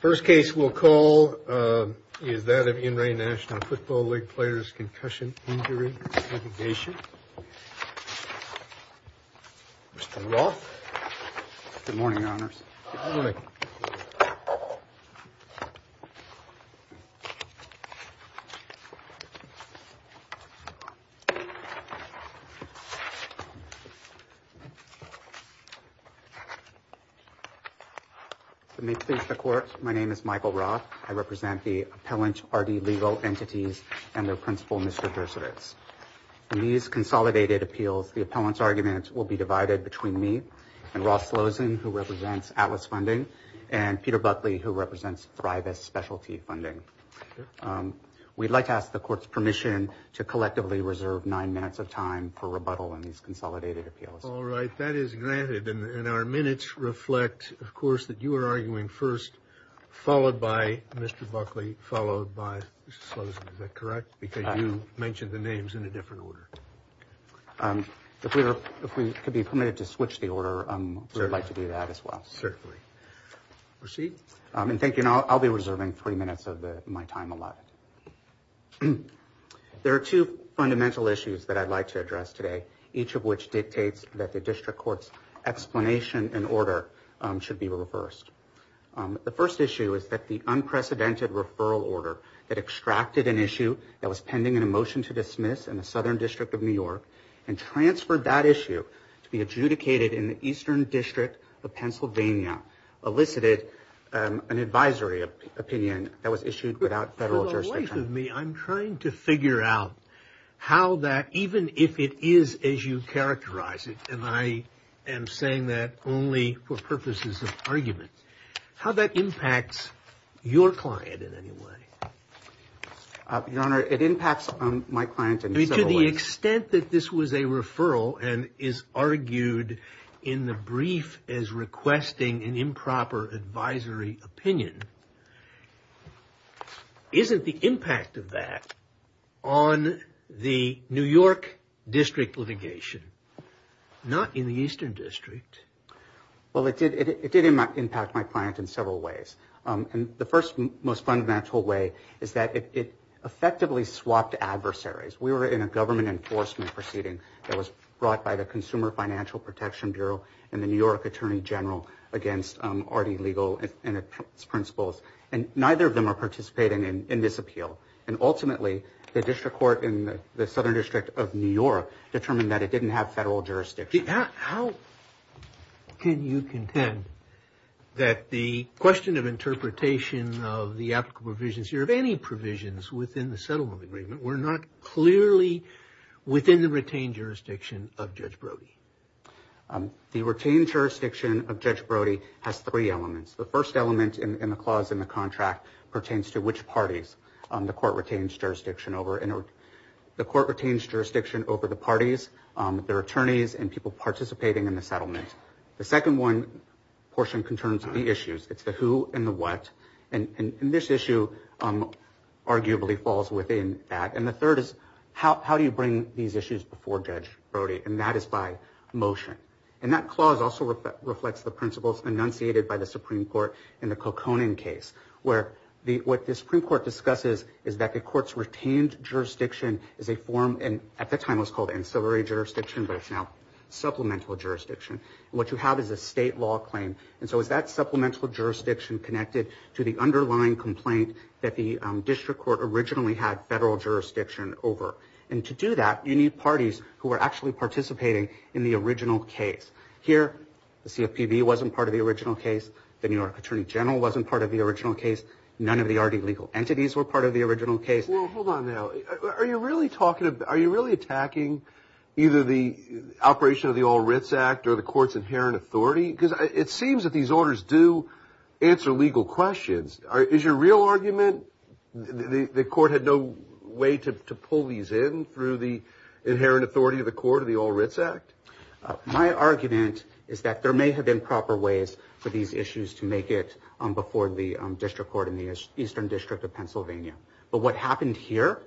First case we'll call is that of In Re National Football League Players Concussion Injury and Dislocation. Mr. Roth. Good morning, Your Honors. Good morning. My name is Michael Roth. I represent the appellant's party legal entities and their principal, Mr. Dershowitz. In these consolidated appeals, the appellant's arguments will be divided between me and Ross Losen, who represents Atlas Funding, and Peter Buckley, who represents Thrive S Specialty Funding. We'd like to ask the court's permission to collectively reserve nine minutes of time for rebuttal in these consolidated appeals. All right, that is granted, and our minutes reflect, of course, that you are arguing first, followed by Mr. Buckley, followed by Mr. Losen. Is that correct? Because you mentioned the names in a different order. If we could be permitted to switch the order, we'd like to do that as well. Certainly. Proceed. Thank you. I'll be reserving three minutes of my time allowed. There are two fundamental issues that I'd like to address today, each of which dictates that the district court's explanation and order should be reversed. The first issue is that the unprecedented referral order that extracted an issue that was pending in a motion to dismiss in the Southern District of New York and transferred that issue to be adjudicated in the Eastern District of Pennsylvania elicited an advisory opinion that was issued without federal jurisdiction. I'm trying to figure out how that, even if it is as you characterize it, and I am saying that only for purposes of argument, how that impacts your client in any way. Your Honor, it impacts my client in several ways. To the extent that this was a referral and is argued in the brief as requesting an improper advisory opinion, isn't the impact of that on the New York District litigation, not in the Eastern District? Well, it did impact my client in several ways. The first and most fundamental way is that it effectively swapped adversaries. We were in a government enforcement proceeding that was brought by the Consumer Financial Protection Bureau and the New York Attorney General against R.D. legal principles. Neither of them are participating in this appeal. Ultimately, the district court in the Southern District of New York determined that it didn't have federal jurisdiction. How can you contend that the question of interpretation of the applicable provisions here, of any provisions within the settlement agreement, were not clearly within the retained jurisdiction of Judge Brody? The retained jurisdiction of Judge Brody has three elements. The first element in the clause in the contract pertains to which parties the court retains jurisdiction over. The court retains jurisdiction over the parties, their attorneys, and people participating in the settlement. The second portion concerns the issues. It's the who and the what. This issue arguably falls within that. The third is, how do you bring these issues before Judge Brody? That is by motion. That clause also reflects the principles enunciated by the Supreme Court in the Koconen case. What the Supreme Court discusses is that the court's retained jurisdiction is a form, and at the time it was called ancillary jurisdiction, but it's now supplemental jurisdiction. What you have is a state law claim. Is that supplemental jurisdiction connected to the underlying complaint that the district court originally had federal jurisdiction over? To do that, you need parties who are actually participating in the original case. Here, the CFPB wasn't part of the original case. The New York Attorney General wasn't part of the original case. None of the already legal entities were part of the original case. Hold on now. Are you really attacking either the operation of the All Writs Act or the court's inherent authority? It seems that these orders do answer legal questions. Is your real argument? The court had no way to pull these in through the inherent authority of the court of the All Writs Act? My argument is that there may have been proper ways for these issues to make it before the district court in the Eastern District of Pennsylvania. But what happened here,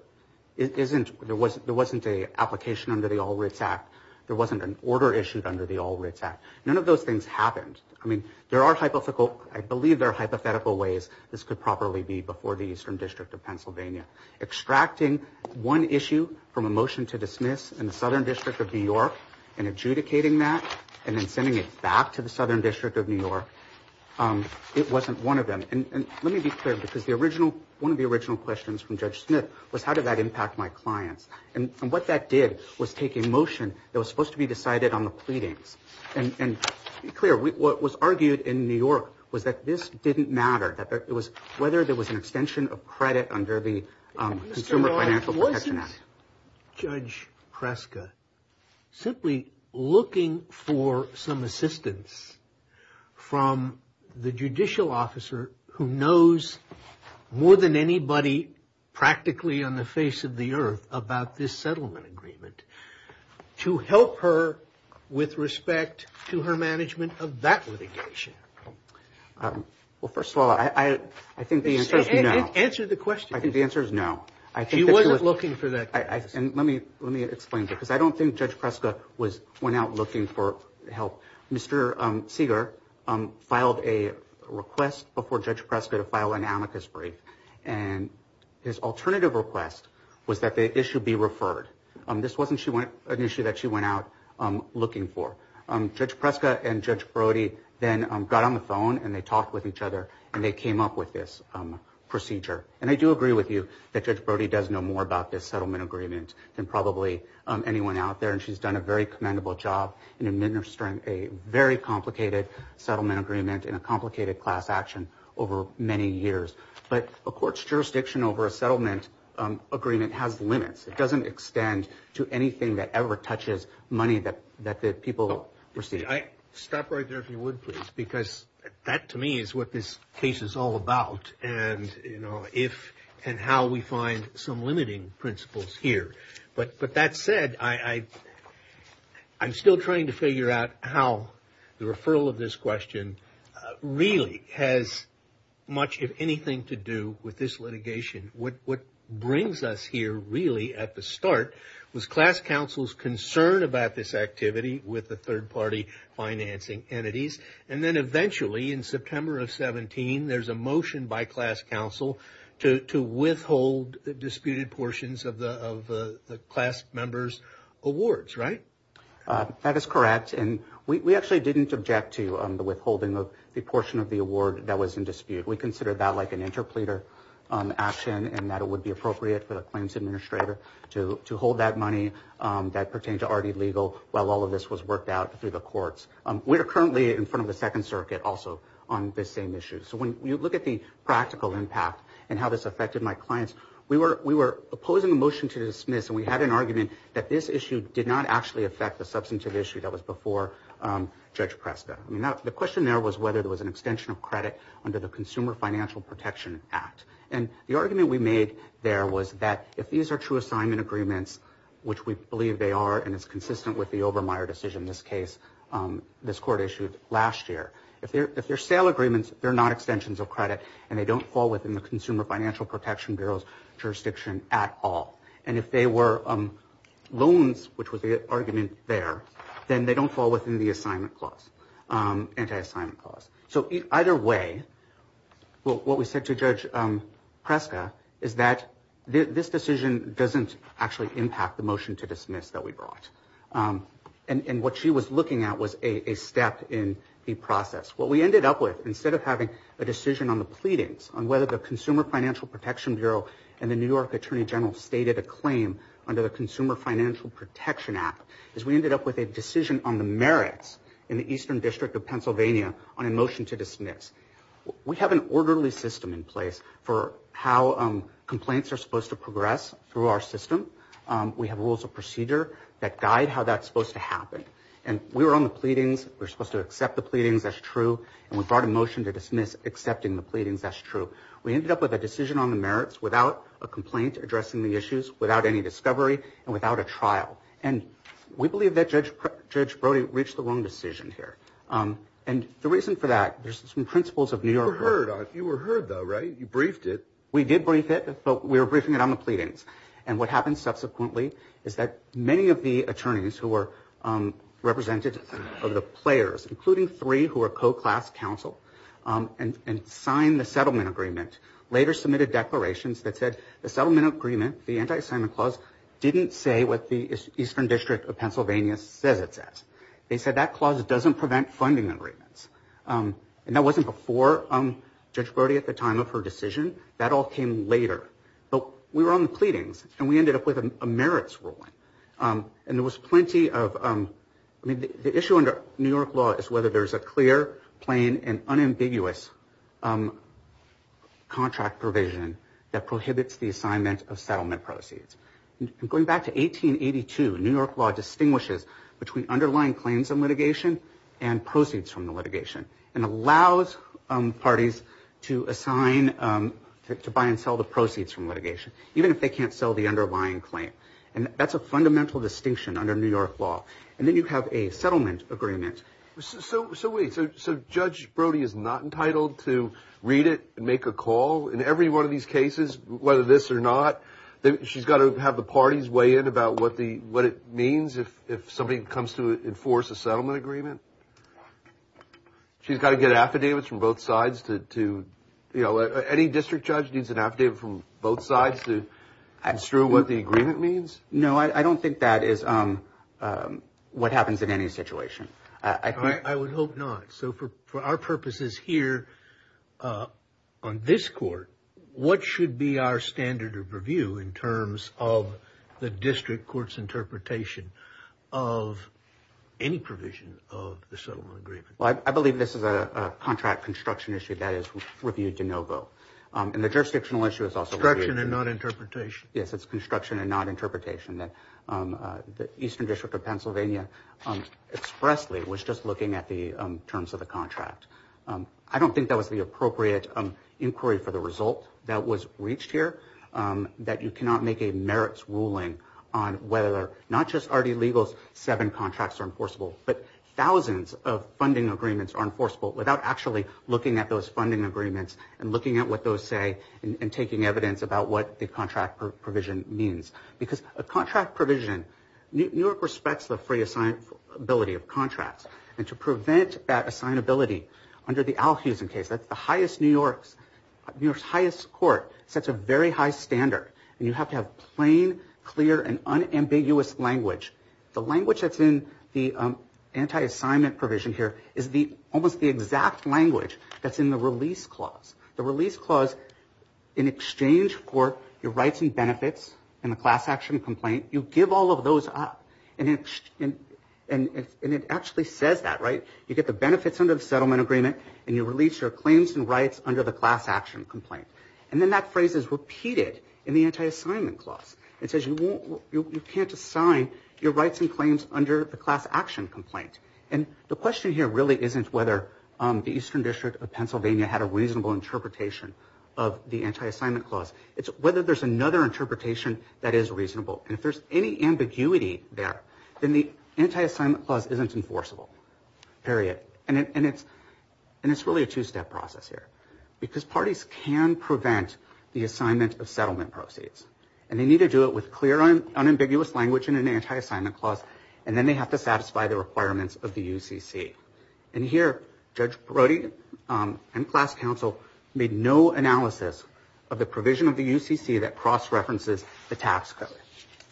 there wasn't an application under the All Writs Act. There wasn't an order issued under the All Writs Act. None of those things happened. I believe there are hypothetical ways this could properly be before the Eastern District of Pennsylvania. Extracting one issue from a motion to dismiss in the Southern District of New York and adjudicating that and then sending it back to the Southern District of New York, it wasn't one of them. Let me be clear because one of the original questions from Judge Smith was how did that impact my client. What that did was take a motion that was supposed to be decided on the pleading. Be clear, what was argued in New York was that this didn't matter. Whether there was an extension of credit under the Consumer Financial Protection Act. Was Judge Kreska simply looking for some assistance from the judicial officer who knows more than anybody practically on the face of the earth about this settlement agreement to help her with respect to her management of that litigation? Well, first of all, I think the answer is no. Answer the question. I think the answer is no. He wasn't looking for that. Let me explain because I don't think Judge Kreska went out looking for help. Mr. Segar filed a request before Judge Kreska to file an amicus brief and his alternative request was that the issue be referred. This wasn't an issue that she went out looking for. Judge Kreska and Judge Brody then got on the phone and they talked with each other and they came up with this procedure. And I do agree with you that Judge Brody does know more about this settlement agreement than probably anyone out there and she's done a very commendable job in administering a very complicated settlement agreement in a complicated class action over many years. But a court's jurisdiction over a settlement agreement has limits. It doesn't extend to anything that ever touches money that the people receive. Stop right there if you would, please, because that to me is what this case is all about and how we find some limiting principles here. But that said, I'm still trying to figure out how the referral of this question really has much, if anything, to do with this litigation. What brings us here really at the start was class counsel's concern about this activity with the third party financing entities. And then eventually in September of 17, there's a motion by class counsel to withhold the disputed portions of the class member's awards, right? That is correct. And we actually didn't object to the withholding of the portion of the award that was in dispute. We considered that like an interpleader action and that it would be appropriate for the claims administrator to hold that money that pertained to RD Legal while all of this was worked out through the courts. We are currently in front of the Second Circuit also on this same issue. So when you look at the practical impact and how this affected my clients, we were opposing the motion to dismiss and we had an argument that this issue did not actually affect the substantive issue that was before Judge Presta. The question there was whether there was an extension of credit under the Consumer Financial Protection Act. And the argument we made there was that if these are true assignment agreements, which we believe they are and it's consistent with the Obermeyer decision in this case, this court issued last year, if they're sale agreements, they're not extensions of credit and they don't fall within the Consumer Financial Protection Bureau's jurisdiction at all. And if they were loans, which was the argument there, then they don't fall within the assignment clause, anti-assignment clause. So either way, what we said to Judge Presta is that this decision doesn't actually impact the motion to dismiss that we brought. And what she was looking at was a step in the process. What we ended up with, instead of having a decision on the pleadings on whether the Consumer Financial Protection Bureau and the New York Attorney General stated a claim under the Consumer Financial Protection Act, is we ended up with a decision on the merits in the Eastern District of Pennsylvania on a motion to dismiss. We have an orderly system in place for how complaints are supposed to progress through our system. We have rules of procedure that guide how that's supposed to happen. And we were on the pleadings. We were supposed to accept the pleadings. That's true. And we brought a motion to dismiss accepting the pleadings. That's true. We ended up with a decision on the merits without a complaint addressing the issues, without any discovery, and without a trial. And we believe that Judge Brody reached the wrong decision here. And the reason for that, there's some principles of New York law. You were heard, though, right? You briefed it. We did brief it, but we were briefing it on the pleadings. And what happened subsequently is that many of the attorneys who were represented, including three who were co-class counsel and signed the settlement agreement, later submitted declarations that said the settlement agreement, the anti-assignment clause, didn't say what the Eastern District of Pennsylvania said it said. They said that clause doesn't prevent funding agreements. And that wasn't before Judge Brody at the time of her decision. That all came later. But we were on the pleadings, and we ended up with a merits ruling. And there was plenty of... The issue under New York law is whether there's a clear, plain, and unambiguous contract provision that prohibits the assignment of settlement proceeds. Going back to 1882, New York law distinguishes between underlying claims of litigation and proceeds from the litigation, and allows parties to buy and sell the proceeds from litigation, even if they can't sell the underlying claim. And that's a fundamental distinction under New York law. And then you have a settlement agreement. So wait, so Judge Brody is not entitled to read it and make a call? In every one of these cases, whether this or not, she's got to have the parties weigh in about what it means if somebody comes to enforce a settlement agreement? She's got to get affidavits from both sides to... No, I don't think that is what happens in any situation. I would hope not. So for our purposes here on this court, what should be our standard of review in terms of the district court's interpretation of any provision of the settlement agreement? Well, I believe this is a contract construction issue that is reviewed de novo. And the jurisdictional issue is also... Construction and not interpretation. Yes, it's construction and not interpretation. The Eastern District of Pennsylvania expressly was just looking at the terms of the contract. I don't think that was the appropriate inquiry for the result that was reached here, that you cannot make a merits ruling on whether, not just RD Legal's seven contracts are enforceable, but thousands of funding agreements are enforceable without actually looking at those funding agreements and looking at what those say and taking evidence about what the contract provision means. Because a contract provision... New York respects the free assignability of contracts. And to prevent that assignability, under the Alfiezen case, that's the highest New York's... New York's highest court sets a very high standard. And you have to have plain, clear, and unambiguous language. The language that's in the anti-assignment provision here is almost the exact language that's in the release clause. The release clause, in exchange for your rights and benefits in the class action complaint, you give all of those up. And it actually says that, right? You get the benefits under the settlement agreement and you release your claims and rights under the class action complaint. And then that phrase is repeated in the anti-assignment clause. It says you can't assign your rights and claims under the class action complaint. And the question here really isn't whether the Eastern District of Pennsylvania had a reasonable interpretation of the anti-assignment clause. It's whether there's another interpretation that is reasonable. And if there's any ambiguity there, then the anti-assignment clause isn't enforceable. Period. And it's really a two-step process here. Because parties can prevent the assignment of settlement proceeds. And they need to do it with clear, unambiguous language in an anti-assignment clause. And then they have to satisfy the requirements of the UCC. And here, Judge Brody and class counsel made no analysis of the provision of the UCC that cross-references the tax code.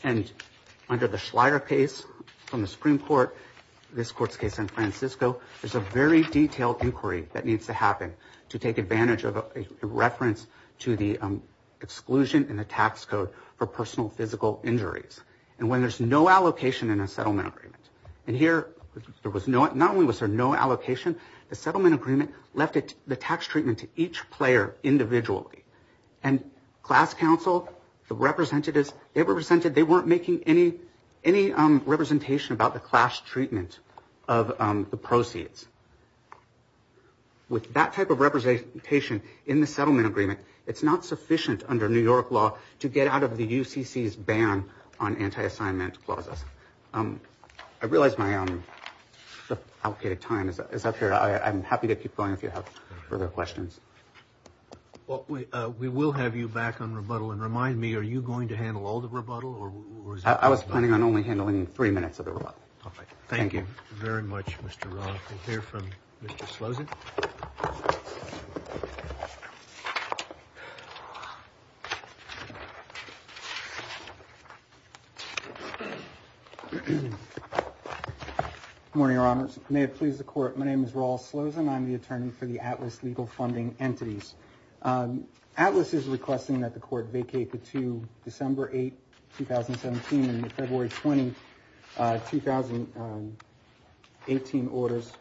And under the Schleyer case from the Supreme Court, this court's case in San Francisco, there's a very detailed inquiry that needs to happen to take advantage of a reference to the exclusion in the tax code for personal physical injuries. And when there's no allocation in a settlement agreement. And here, not only was there no allocation, the settlement agreement left the tax treatment to each player individually. And class counsel, the representatives, they weren't making any representation about the class treatment of the proceeds. With that type of representation in the settlement agreement, it's not sufficient under New York law to get out of the UCC's ban on anti-assignments clauses. I realize my outdated time is up here. I'm happy to keep going if you have further questions. We will have you back on rebuttal. And remind me, are you going to handle all the rebuttal? I was planning on only handling three minutes of the rebuttal. Thank you very much, Mr. Roloff. We'll hear from Mr. Slozen. Good morning, Your Honors. May it please the Court, my name is Rolf Slozen. I'm the attorney for the Atlas Legal Funding Entities. Atlas is requesting that the Court vacate the 2 December 8, 2017 and the February 20, 2018 orders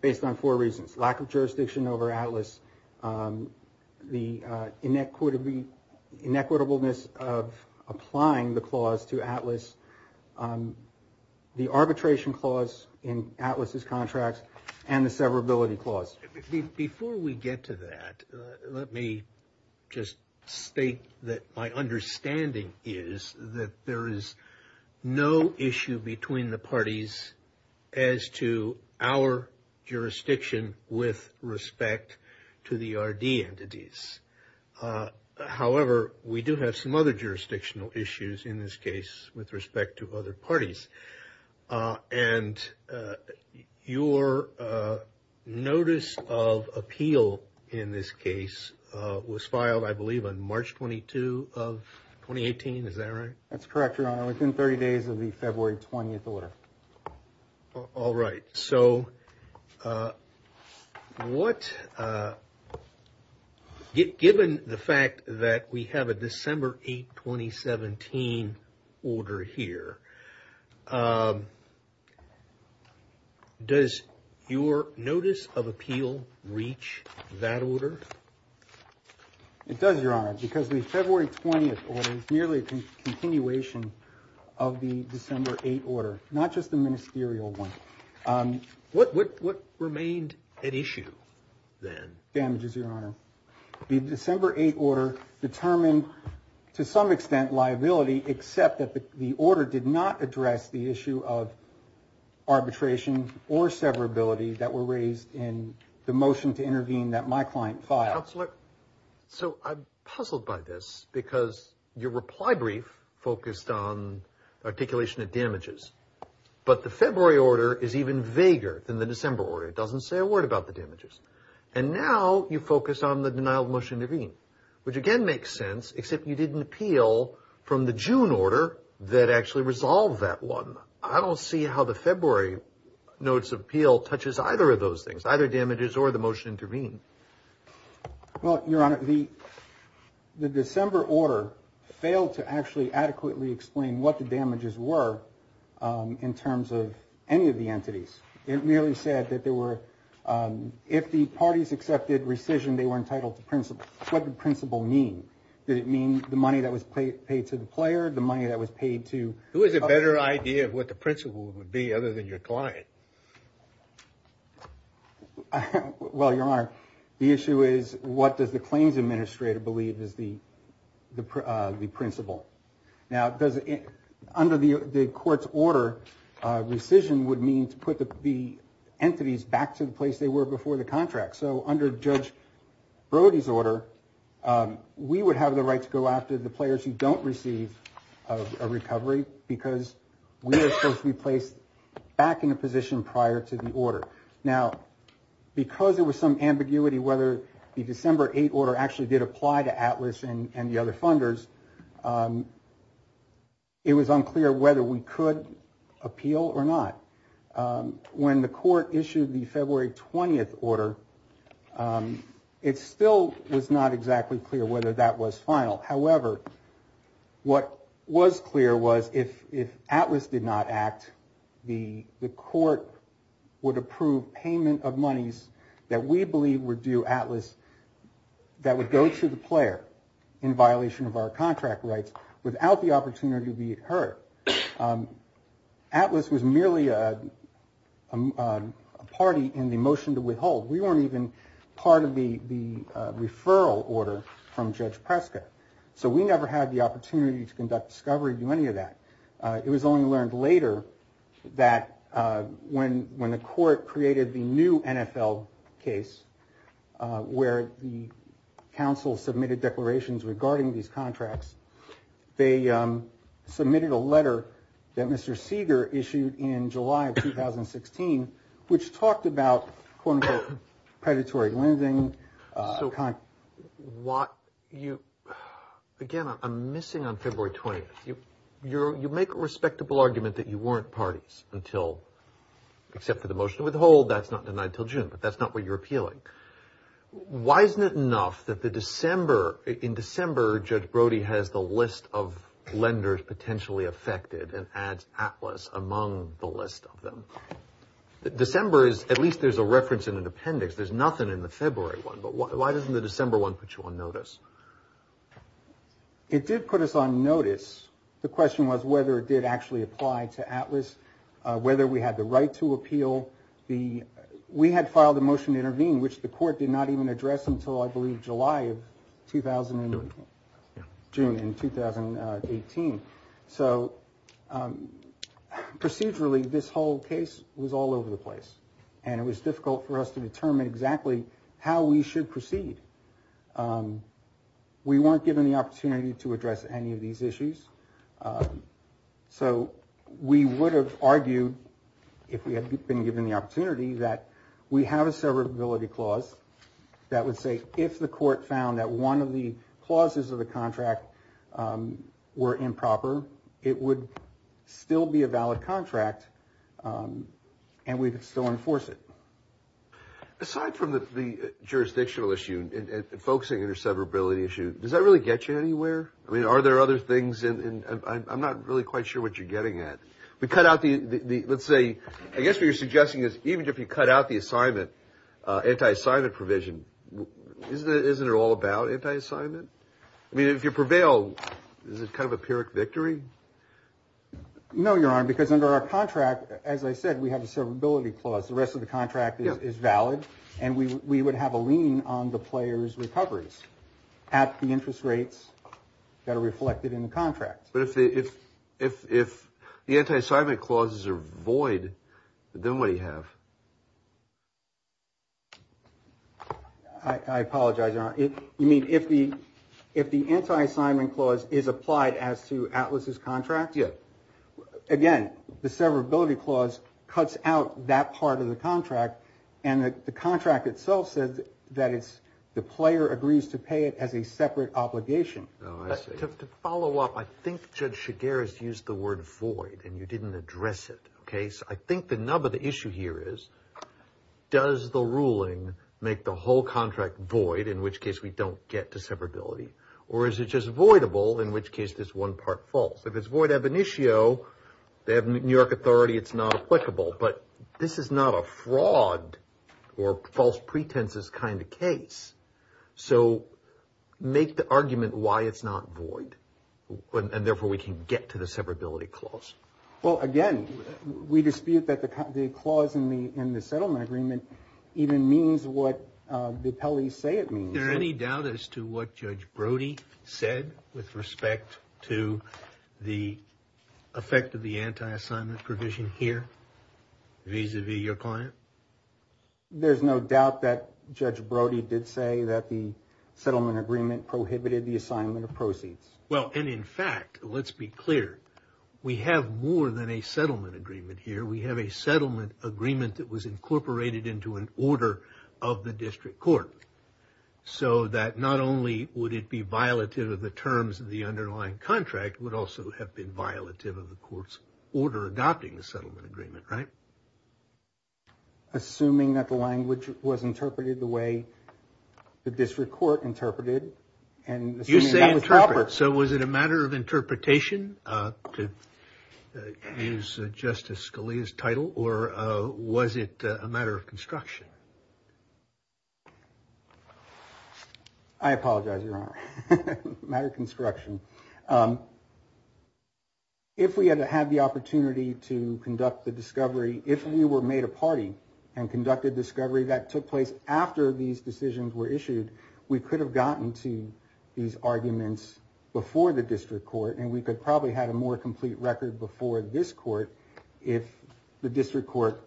based on four reasons, lack of jurisdiction over Atlas, the inequitableness of applying the clause to Atlas, the arbitration clause in Atlas's contract, and the severability clause. Before we get to that, let me just state that my understanding is that there is no issue between the parties as to our jurisdiction with respect to the RD entities. However, we do have some other jurisdictional issues in this case with respect to other parties. And your notice of appeal in this case was filed, I believe, on March 22, 2018. Is that right? That's correct, Your Honor. It was within 30 days of the February 20 order. All right. So given the fact that we have a December 8, 2017 order here, does your notice of appeal reach that order? It does, Your Honor, because the February 20 order is merely a continuation of the December 8 order, not just the ministerial one. What remained at issue then? Damages, Your Honor. The December 8 order determined, to some extent, liability, except that the order did not address the issue of arbitration or severability that were raised in the motion to intervene that my client filed. Counselor, So I'm puzzled by this, because your reply brief focused on articulation of damages, but the February order is even vaguer than the December order. It doesn't say a word about the damages. And now you focus on the denial of motion to intervene, which again makes sense, except you didn't appeal from the June order that actually resolved that one. I don't see how the February notice of appeal touches either of those things, either damages or the motion to intervene. Well, Your Honor, the December order failed to actually adequately explain what the damages were in terms of any of the entities. It merely said that if the parties accepted rescission, they were entitled to principal. What did principal mean? Did it mean the money that was paid to the player, the money that was paid to... Who has a better idea of what the principal would be other than your client? Well, Your Honor, the issue is what does the claims administrator believe is the principal? Now, under the court's order, rescission would mean to put the entities back to the place they were before the contract. So under Judge Brody's order, we would have the right to go after the players who don't receive a recovery because we are supposed to be placed back in a position prior to the order. Now, because there was some ambiguity whether the December 8 order actually did apply to Atlas and the other funders, it was unclear whether we could appeal or not. When the court issued the February 20 order, it still was not exactly clear whether that was final. However, what was clear was if Atlas did not act, the court would approve payment of monies that we believe would do Atlas that would go to the player in violation of our contract rights without the opportunity to be hurt. Atlas was merely a party in the motion to withhold. We weren't even part of the referral order from Judge Prescott. So we never had the opportunity to conduct discovery in any of that. It was only learned later that when the court created the new NFL case where the counsel submitted declarations regarding these contracts, they submitted a letter that Mr. Seeger issued in July of 2016 which talked about, quote-unquote, predatory lending. Again, I'm missing on February 20th. You make a respectable argument that you weren't parties except for the motion to withhold. That's not denied until June, but that's not what you're appealing. Why isn't it enough that in December, Judge Brody has the list of lenders potentially affected and adds Atlas among the list of them? December is, at least there's a reference in an appendix. There's nothing in the February one, but why doesn't the December one put you on notice? It did put us on notice. The question was whether it did actually apply to Atlas, whether we had the right to appeal. We had filed a motion to intervene which the court did not even address until, I believe, July of 2018. June in 2018. Procedurally, this whole case was all over the place and it was difficult for us to determine exactly how we should proceed. We weren't given the opportunity to address any of these issues. We would have argued, if we had been given the opportunity, that we have a severability clause that would say that if the court found that one of the clauses of the contract were improper, it would still be a valid contract and we could still enforce it. Aside from the jurisdictional issue and focusing on your severability issue, does that really get you anywhere? Are there other things? I'm not really quite sure what you're getting at. I guess what you're suggesting is, even if you cut out the anti-assignment provision, isn't it all about anti-assignment? I mean, if you prevail, is this kind of a pyrrhic victory? No, Your Honor, because under our contract, as I said, we have a severability clause. The rest of the contract is valid and we would have a lien on the player's recoveries at the interest rates that are reflected in the contract. But if the anti-assignment clauses are void, then what do you have? I apologize, Your Honor. You mean if the anti-assignment clause is applied as to Atlas's contract? Yes. Again, the severability clause cuts out that part of the contract and the contract itself says that the player agrees to pay it as a separate obligation. Oh, I see. To follow up, I think Judge Chigueras used the word void and you didn't address it. I think the nub of the issue here is, does the ruling make the whole contract void, in which case we don't get to severability, or is it just voidable, in which case there's one part false? If it's void ab initio, they have New York authority, it's not applicable. But this is not a fraud or false pretenses kind of case. So make the argument why it's not void, and therefore we can get to the severability clause. Well, again, we dispute that the clause in the settlement agreement even means what the appellees say it means. Is there any doubt as to what Judge Brody said with respect to the effect of the anti-assignment provision here, vis-a-vis your client? There's no doubt that Judge Brody did say that the settlement agreement prohibited the assignment of proceeds. Well, and in fact, let's be clear, we have more than a settlement agreement here. We have a settlement agreement that was incorporated into an order of the district court, so that not only would it be violative of the terms of the underlying contract, it would also have been violative of the court's order of adopting the settlement agreement, right? Assuming that the language was interpreted the way the district court interpreted. You say interpret, so was it a matter of interpretation, to use Justice Scalia's title, or was it a matter of construction? I apologize, Your Honor. A matter of construction. If we had had the opportunity to conduct the discovery, if we were made a party and conducted discovery that took place after these decisions were issued, we could have gotten to these arguments before the district court, and we could probably have a more complete record before this court if the district court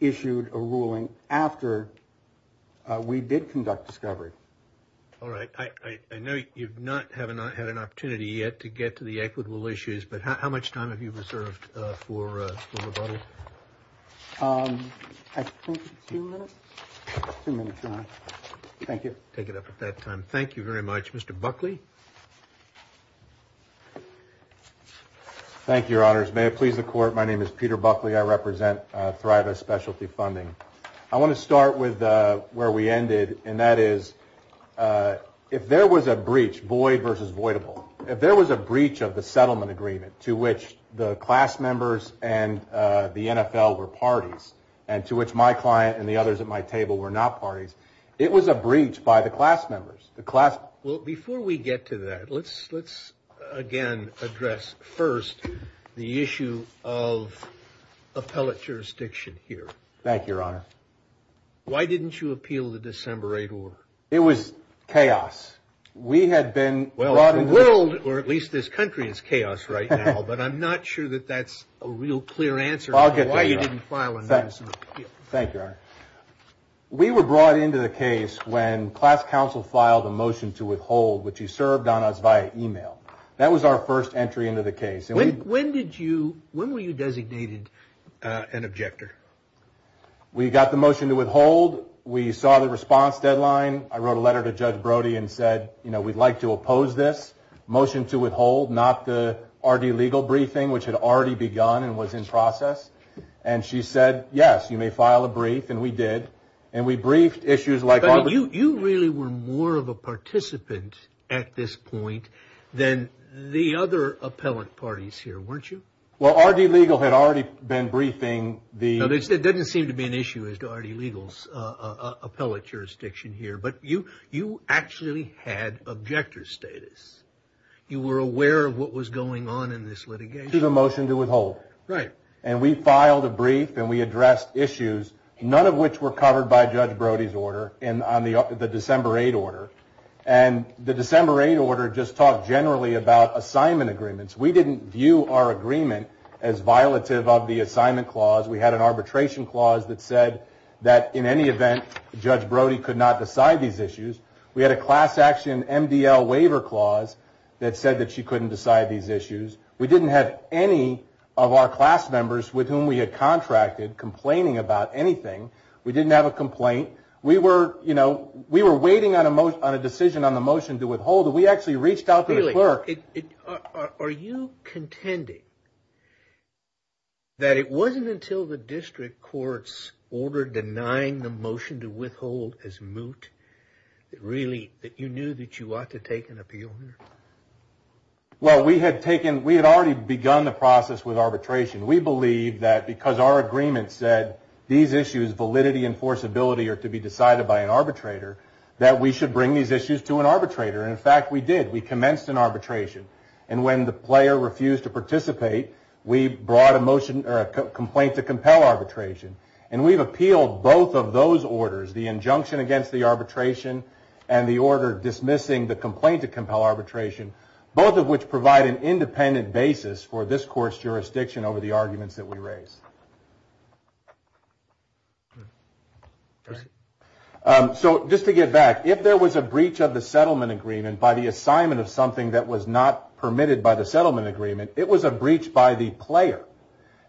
issued a ruling after we did conduct discovery. I know you've not had an opportunity to do that, you haven't had an opportunity yet to get to the equitable issues, but how much time have you reserved for the vote? I think two minutes. Two minutes, Your Honor. Thank you. Take it up at that time. Thank you very much. Mr. Buckley? Thank you, Your Honors. May it please the court, my name is Peter Buckley. I represent Thrive of Specialty Funding. I want to start with where we ended, and that is if there was a breach, void versus voidable, if there was a breach of the settlement agreement to which the class members and the NFL were parties, and to which my client and the others at my table were not parties, it was a breach by the class members. Before we get to that, let's again address first Thank you, Your Honor. Why didn't you appeal the December 8 war? It was chaos. We had been... Well, the world, or at least this country, is chaos right now, but I'm not sure that that's a real clear answer as to why you didn't file a notice of appeal. Thank you, Your Honor. We were brought into the case when class counsel filed a motion to withhold, which you served on us via email. That was our first entry into the case. When were you designated an objector? We got the motion to withhold. We saw the response deadline. I wrote a letter to Judge Brody and said, you know, we'd like to oppose this motion to withhold, not the RD legal briefing, which had already begun and was in process, and she said, yes, you may file a brief, and we did, and we briefed issues like... But you really were more of a participant at this point than the other appellate parties here, weren't you? Well, RD legal had already been briefing the... No, there didn't seem to be an issue as to RD legal's appellate jurisdiction here, but you actually had objector status. You were aware of what was going on in this litigation. It was a motion to withhold. Right. And we filed a brief, and we addressed issues, none of which were covered by Judge Brody's order, and on the December 8 order, and the December 8 order just talked generally about assignment agreements. We didn't view our agreement as violative of the assignment clause. We had an arbitration clause that said that in any event, Judge Brody could not decide these issues. We had a class action MDL waiver clause that said that she couldn't decide these issues. We didn't have any of our class members with whom we had contracted complaining about anything. We didn't have a complaint. We were, you know, we were waiting on a decision on a motion to withhold, and we actually reached out to the clerk. Are you contending that it wasn't until the district court's order denying the motion to withhold as moot, really, that you knew that you ought to take an appeal? Well, we had already begun the process with arbitration. We believe that because our agreement said these issues, validity, and forcibility are to be decided by an arbitrator, that we should bring these issues to an arbitrator, and, in fact, we did. We commenced an arbitration, and when the player refused to participate, we brought a motion or a complaint to compel arbitration, and we've appealed both of those orders, the injunction against the arbitration and the order dismissing the complaint to compel arbitration, both of which provide an independent basis for this court's jurisdiction over the arguments that we raised. So just to get back, if there was a breach of the settlement agreement by the assignment of something that was not permitted by the settlement agreement, it was a breach by the player.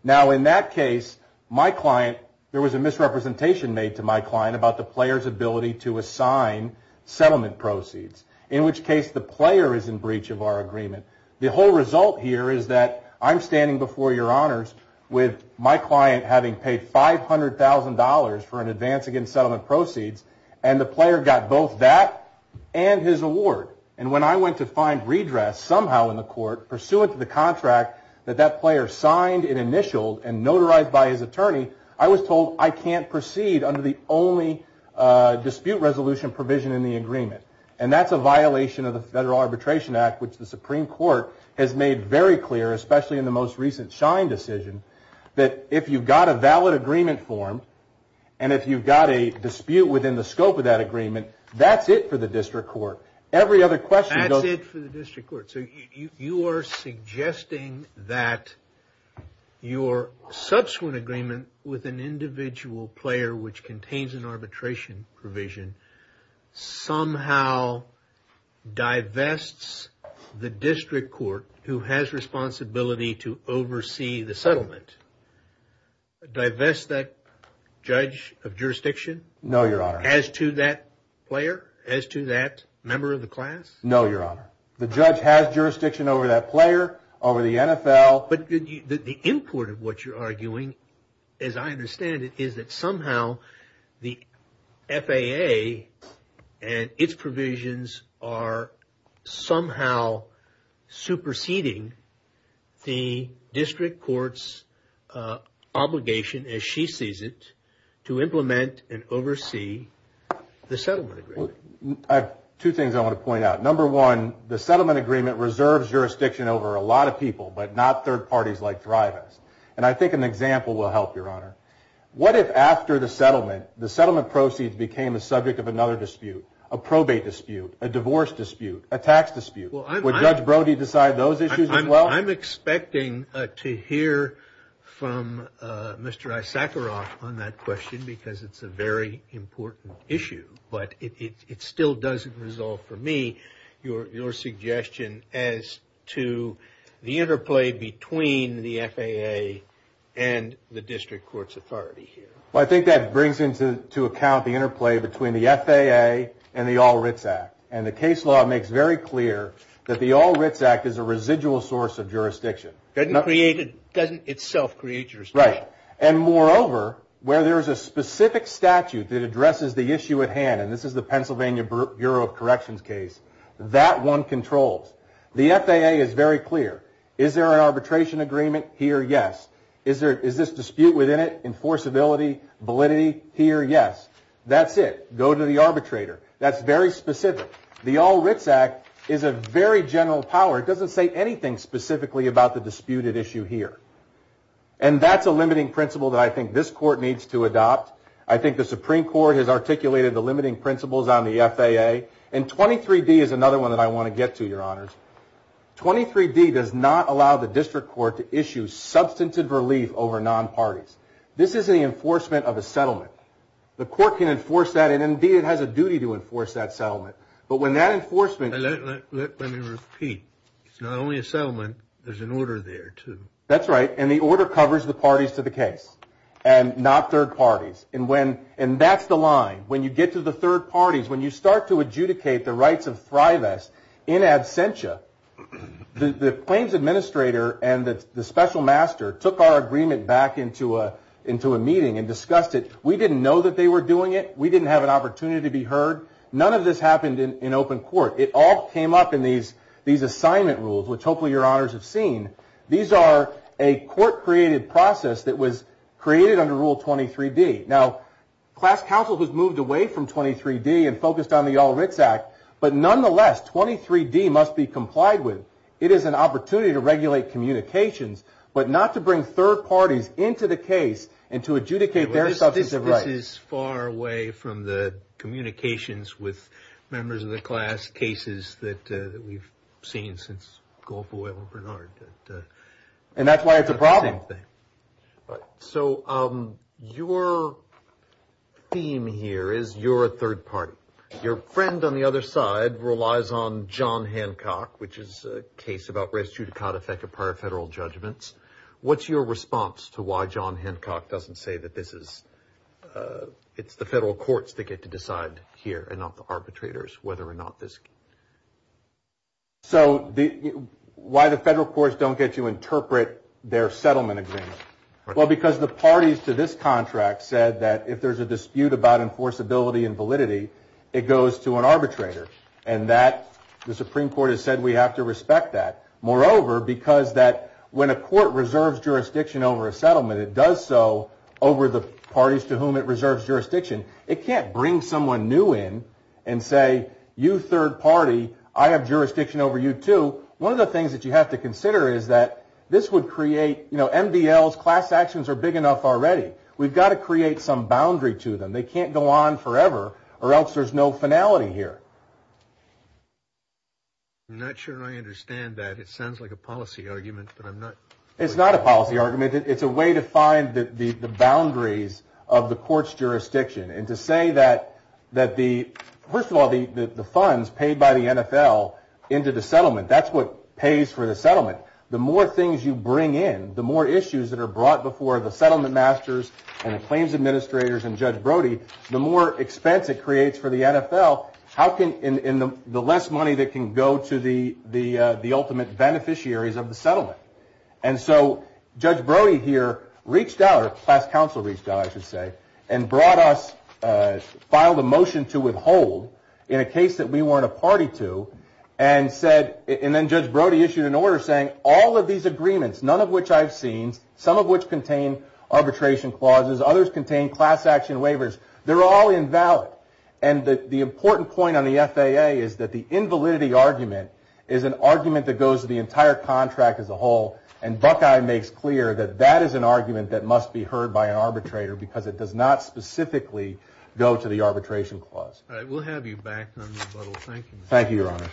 Now, in that case, my client, there was a misrepresentation made to my client about the player's ability to assign settlement proceeds, in which case the player is in breach of our agreement. The whole result here is that I'm standing before your honors with my client, my client having paid $500,000 for an advance against settlement proceeds, and the player got both that and his award. And when I went to find redress somehow in the court, pursuant to the contract that that player signed and initialed and notarized by his attorney, I was told I can't proceed under the only dispute resolution provision in the agreement. And that's a violation of the Federal Arbitration Act, which the Supreme Court has made very clear, especially in the most recent Schein decision, that if you've got a valid agreement form and if you've got a dispute within the scope of that agreement, that's it for the district court. Every other question goes... That's it for the district court. So you are suggesting that your subsequent agreement with an individual player, which contains an arbitration provision, somehow divests the district court who has responsibility to oversee the settlement? Divest that judge of jurisdiction? No, your honor. As to that player, as to that member of the class? No, your honor. The judge has jurisdiction over that player, over the NFL... But the import of what you're arguing, as I understand it, is that somehow the FAA and its provisions are somehow superseding the district court's obligation, as she sees it, to implement and oversee the settlement agreement. Two things I want to point out. Number one, the settlement agreement reserves jurisdiction over a lot of people, but not third parties like thrivists. And I think an example will help, your honor. What if after the settlement, the settlement proceeds became the subject of another dispute? A probate dispute? A divorce dispute? A tax dispute? Would Judge Brody decide those issues as well? I'm expecting to hear from Mr. Issacharoff on that question, because it's a very important issue. But it still doesn't resolve, for me, your suggestion as to the interplay between the FAA and the district court's authority here. Well, I think that brings into account the interplay between the FAA and the All Writs Act. And the case law makes very clear that the All Writs Act is a residual source of jurisdiction. Doesn't itself create jurisdiction. Right. And moreover, where there's a specific statute that addresses the issue at hand, and this is the Pennsylvania Bureau of Corrections case, that one controls. The FAA is very clear. Is there an arbitration agreement? Here, yes. Is this dispute within it, enforceability, validity? Here, yes. That's it. Go to the arbitrator. That's very specific. The All Writs Act is a very general power. It doesn't say anything specifically about the disputed issue here. And that's a limiting principle that I think this court needs to adopt. I think the Supreme Court has articulated the limiting principles on the FAA. And 23-D is another one that I want to get to, your honors. 23-D does not allow the district court to issue substantive relief over non-parties. This is the enforcement of a settlement. The court can enforce that, and indeed it has a duty to enforce that settlement. But when that enforcement... Let me repeat. It's not only a settlement. There's an order there, too. That's right. And the order covers the parties to the case and not third parties. And that's the line. When you get to the third parties, when you start to adjudicate the rights of Thrives in absentia, the claims administrator and the special master took our agreement back into a meeting and discussed it. We didn't know that they were doing it. We didn't have an opportunity to be heard. None of this happened in open court. It all came up in these assignment rules, which hopefully your honors have seen. These are a court-created process that was created under Rule 23-D. Now, class counsel has moved away from 23-D and focused on the All Writs Act, but nonetheless 23-D must be complied with. It is an opportunity to regulate communications, but not to bring third parties into the case and to adjudicate their substantive rights. This is far away from the communications with members of the class cases that we've seen since Goldfoyle and Bernard. And that's why it's a problem. So your theme here is you're a third party. Your friend on the other side relies on John Hancock, which is a case about res judicata effect of prior federal judgments. What's your response to why John Hancock doesn't say that it's the federal courts that get to decide here and not the arbitrators, whether or not this case? So why the federal courts don't get to interpret their settlement agreement? Well, because the parties to this contract said that if there's a dispute about enforceability and validity, it goes to an arbitrator, and the Supreme Court has said we have to respect that. Moreover, because that when a court reserves jurisdiction over a settlement, it does so over the parties to whom it reserves jurisdiction. It can't bring someone new in and say, you third party, I have jurisdiction over you too. One of the things that you have to consider is that this would create, you know, MDLs, class actions are big enough already. We've got to create some boundary to them. They can't go on forever or else there's no finality here. I'm not sure I understand that. It sounds like a policy argument, but I'm not. It's not a policy argument. It's a way to find the boundaries of the court's jurisdiction. And to say that the, first of all, the funds paid by the NFL into the settlement, that's what pays for the settlement. The more things you bring in, the more issues that are brought before the settlement masters and the claims administrators and Judge Brody, the more expense it creates for the NFL. And the less money that can go to the ultimate beneficiaries of the settlement. And so Judge Brody here reached out, or class counsel reached out I should say, and brought us, filed a motion to withhold in a case that we weren't a party to, and then Judge Brody issued an order saying all of these agreements, none of which I've seen, some of which contain arbitration clauses, others contain class action waivers, they're all invalid. And the important point on the FAA is that the invalidity argument is an argument that goes to the entire contract as a whole, and Buckeye makes clear that that is an argument that must be heard by an arbitrator because it does not specifically go to the arbitration clause. All right, we'll have you back on the little thing. Thank you, Your Honor.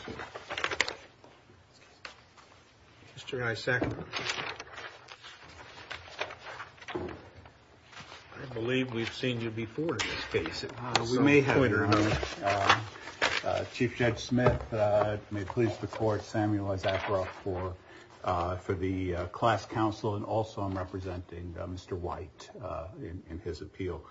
Mr. Isakowitz. I believe we've seen you before in this case. We may have, Your Honor. Chief Judge Smith, may it please the Court, Samuel Adakroff for the class counsel, and also I'm representing Mr. White in his appeal.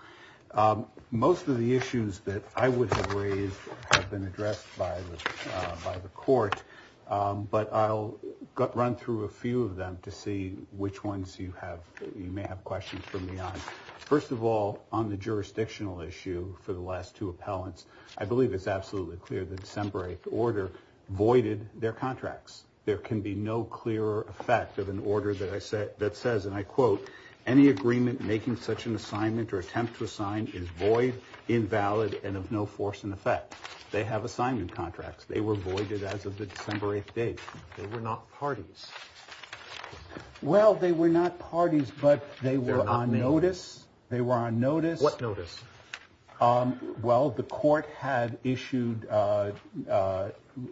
Most of the issues that I would have raised have been addressed by the Court, but I'll run through a few of them to see which ones you may have questions for me on. First of all, on the jurisdictional issue for the last two appellants, I believe it's absolutely clear the December 8th order voided their contracts. There can be no clearer effect of an order that says, and I quote, any agreement making such an assignment or attempt to assign is void, invalid, and of no force and effect. They have assignment contracts. They were voided as of the December 8th date. They were not parties. Well, they were not parties, but they were on notice. They were on notice. What notice? Well, the Court had issued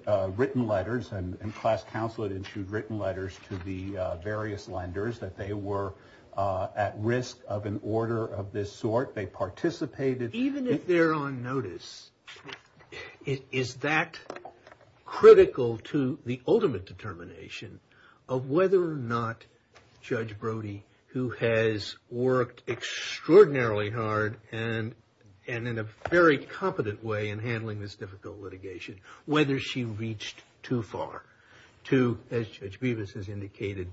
written letters and class counsel had issued written letters to the various lenders that they were at risk of an order of this sort. They participated. Even if they're on notice, is that critical to the ultimate determination of whether or not Judge Brody, who has worked extraordinarily hard and in a very competent way in handling this difficult litigation, whether she reached too far to, as Judge Bevis has indicated,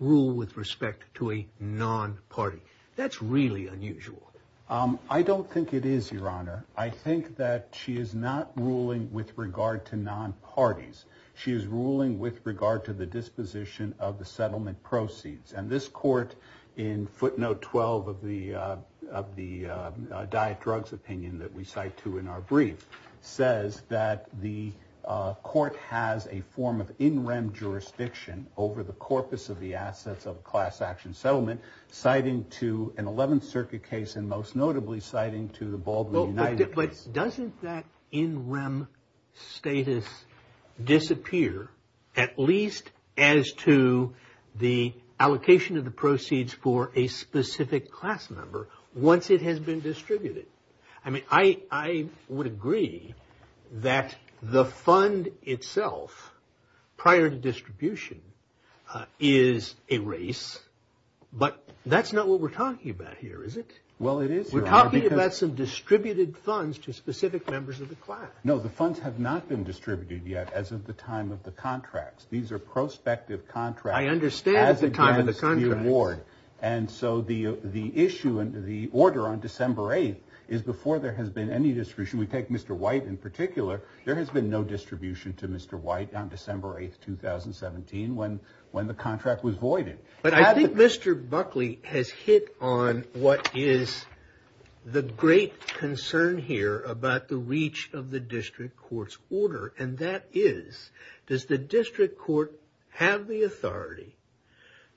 rule with respect to a non-party? That's really unusual. I don't think it is, Your Honor. I think that she is not ruling with regard to non-parties. She is ruling with regard to the disposition of the settlement proceeds, and this Court, in footnote 12 of the diet drugs opinion that we cite to in our brief, says that the Court has a form of in rem jurisdiction over the corpus of the assets of class action settlement, citing to an 11th Circuit case and most notably citing to the Baldwin United. But doesn't that in rem status disappear, at least as to the allocation of the proceeds for a specific class member, once it has been distributed? I mean, I would agree that the fund itself, prior to distribution, is a race, but that's not what we're talking about here, is it? Well, it is, Your Honor. We're talking about some distributed funds to specific members of the class. No, the funds have not been distributed yet as of the time of the contracts. These are prospective contracts. I understand the time of the contracts. And so the issue and the order on December 8th is before there has been any distribution, we take Mr. White in particular, there has been no distribution to Mr. White on December 8th, 2017, when the contract was voided. But I think Mr. Buckley has hit on what is the great concern here about the reach of the district court's order, and that is, does the district court have the authority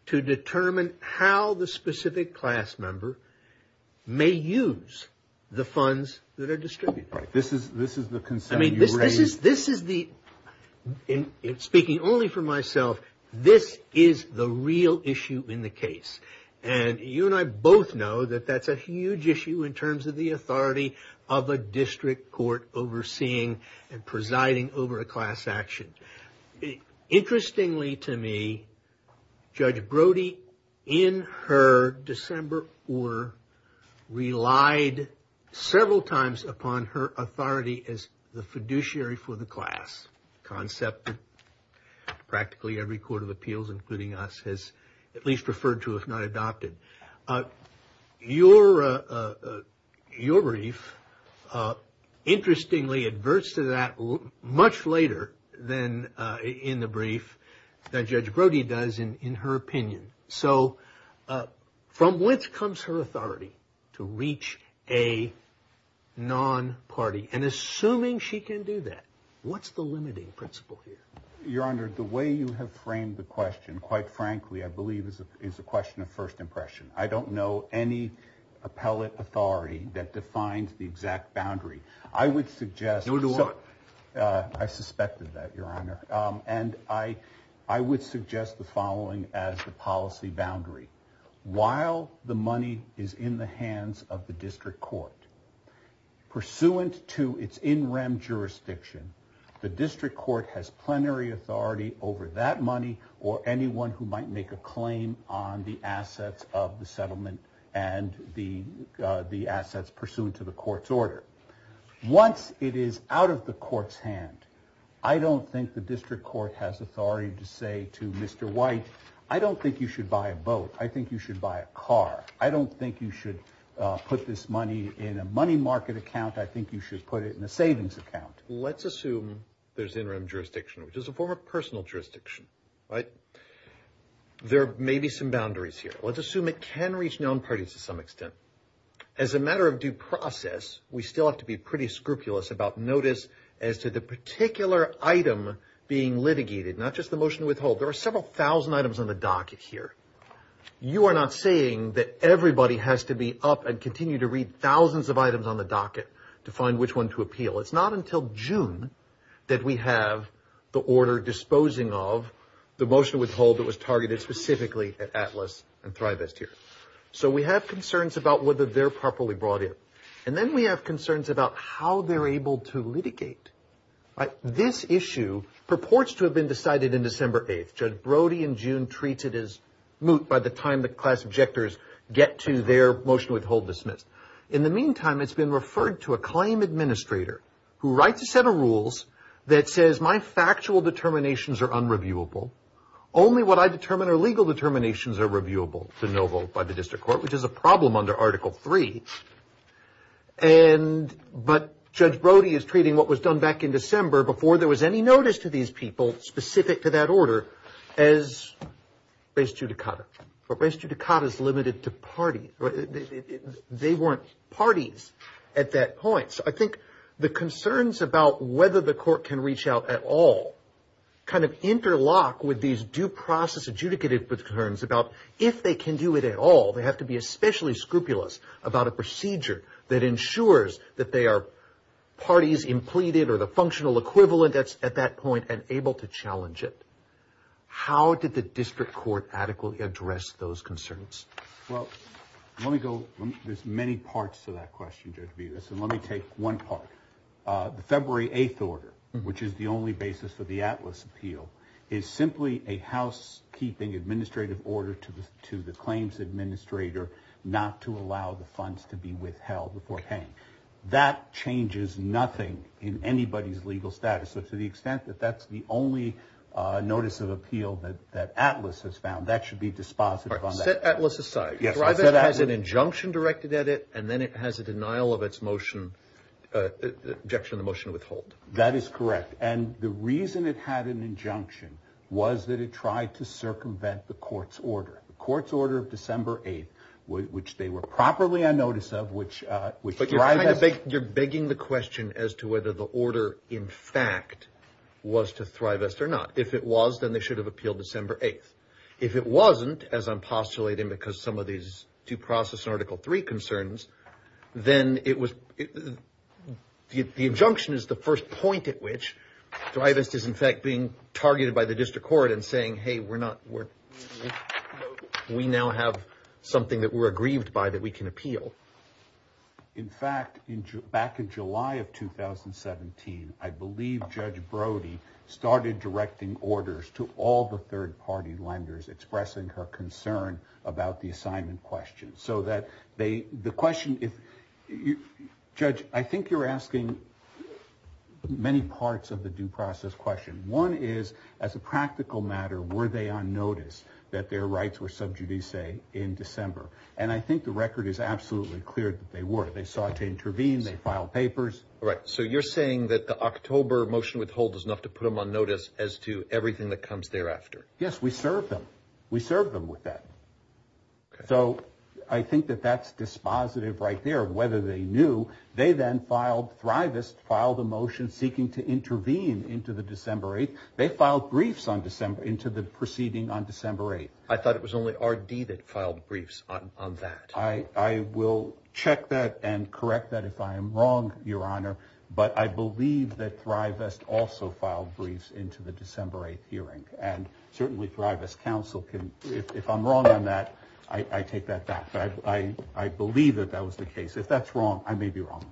to determine how the specific class member may use the funds that are distributed? This is the concern you raised. This is the, speaking only for myself, this is the real issue in the case. And you and I both know that that's a huge issue in terms of the authority of a district court overseeing and presiding over a class action. Interestingly to me, Judge Brody, in her December order, relied several times upon her authority as the fiduciary for the class concept. Practically every court of appeals, including us, has at least preferred to, if not adopted. Your brief interestingly adverts to that much later than in the brief that Judge Brody does in her opinion. So from which comes her authority to reach a non-party? And assuming she can do that, what's the limiting principle here? Your Honor, the way you have framed the question, quite frankly, I believe is a question of first impression. I don't know any appellate authority that defines the exact boundary. I would suggest, I suspected that, Your Honor. And I would suggest the following as the policy boundary. While the money is in the hands of the district court, pursuant to its in rem jurisdiction, the district court has plenary authority over that money or anyone who might make a claim on the assets of the settlement Once it is out of the court's hand, I don't think the district court has authority to say to Mr. White, I don't think you should buy a boat. I think you should buy a car. I don't think you should put this money in a money market account. I think you should put it in a savings account. Let's assume there's in rem jurisdiction, which is a form of personal jurisdiction. There may be some boundaries here. Let's assume it can reach non-parties to some extent. As a matter of due process, we still have to be pretty scrupulous about notice as to the particular item being litigated, not just the motion to withhold. There are several thousand items on the docket here. You are not saying that everybody has to be up and continue to read thousands of items on the docket to find which one to appeal. It's not until June that we have the order disposing of the motion to withhold that was targeted specifically at Atlas and Thrive S2. So we have concerns about whether they're properly brought in. And then we have concerns about how they're able to litigate. This issue purports to have been decided in December 8th. Judge Brody in June treats it as moot by the time the class objectors get to their motion withhold, dismiss. In the meantime, it's been referred to a claim administrator who writes a set of rules that says, my factual determinations are unreviewable. Only what I determine are legal determinations are reviewable to no vote by the district court, which is a problem under Article 3. But Judge Brody is treating what was done back in December before there was any notice to these people specific to that order as res judicata. Res judicata is limited to parties. They weren't parties at that point. I think the concerns about whether the court can reach out at all kind of interlock with these due process adjudicative concerns about if they can do it at all. They have to be especially scrupulous about a procedure that ensures that they are parties in pleading or the functional equivalent at that point and able to challenge it. How did the district court adequately address those concerns? Well, there's many parts to that question, Judge Vegas, and let me take one part. The February 8th order, which is the only basis of the ATLAS appeal, is simply a housekeeping administrative order to the claims administrator not to allow the funds to be withheld before paying. That changes nothing in anybody's legal status. To the extent that that's the only notice of appeal that ATLAS has found, that should be dispositive on that. Set ATLAS aside. Thrive-S has an injunction directed at it, and then it has a denial of its motion, objection to the motion to withhold. That is correct, and the reason it had an injunction was that it tried to circumvent the court's order. The court's order of December 8th, which they were properly on notice of, which Thrive-S... But you're begging the question as to whether the order, in fact, was to Thrive-S or not. If it was, then they should have appealed December 8th. If it wasn't, as I'm postulating because of some of these due process and Article 3 concerns, then the injunction is the first point at which Thrive-S is, in fact, being targeted by the district court and saying, hey, we now have something that we're aggrieved by that we can appeal. In fact, back in July of 2017, I believe Judge Brody started directing orders to all the third-party lenders expressing her concern about the assignment questions, so that they... The question... Judge, I think you're asking many parts of the due process question. One is, as a practical matter, were they on notice that their rights were sub judice in December? And I think the record is absolutely clear that they were. They sought to intervene. They filed papers. All right. So you're saying that the October motion withholds is enough to put them on notice as to everything that comes thereafter. Yes, we served them. We served them with that. So I think that that's dispositive right there. Whether they knew, they then filed Thrive-S filed a motion seeking to intervene into the December 8th. They filed briefs into the proceeding on December 8th. I thought it was only RD that filed briefs on that. I will check that and correct that. If I am wrong, Your Honor, but I believe that Thrive-S also filed briefs into the December 8th hearing. And certainly Thrive-S counsel can... If I'm wrong on that, I take that back. I believe that that was the case. If that's wrong, I may be wrong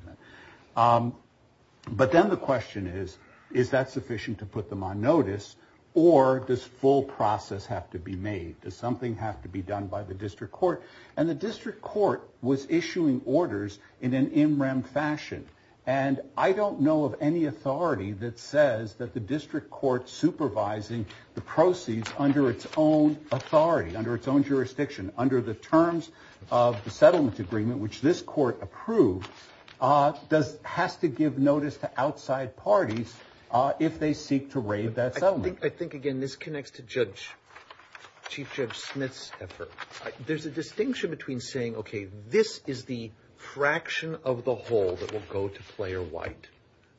on that. But then the question is, is that sufficient to put them on notice or does full process have to be made? Does something have to be done by the district court? And the district court was issuing orders in an in rem fashion. And I don't know of any authority that says that the district court supervising the proceeds under its own authority, under its own jurisdiction, under the terms of the settlement agreement, which this court approved, has to give notice to outside parties if they seek to raid that settlement. I think, again, this connects to Chief Judge Smith's effort. There's a distinction between saying, okay, this is the fraction of the whole that will go to Player White.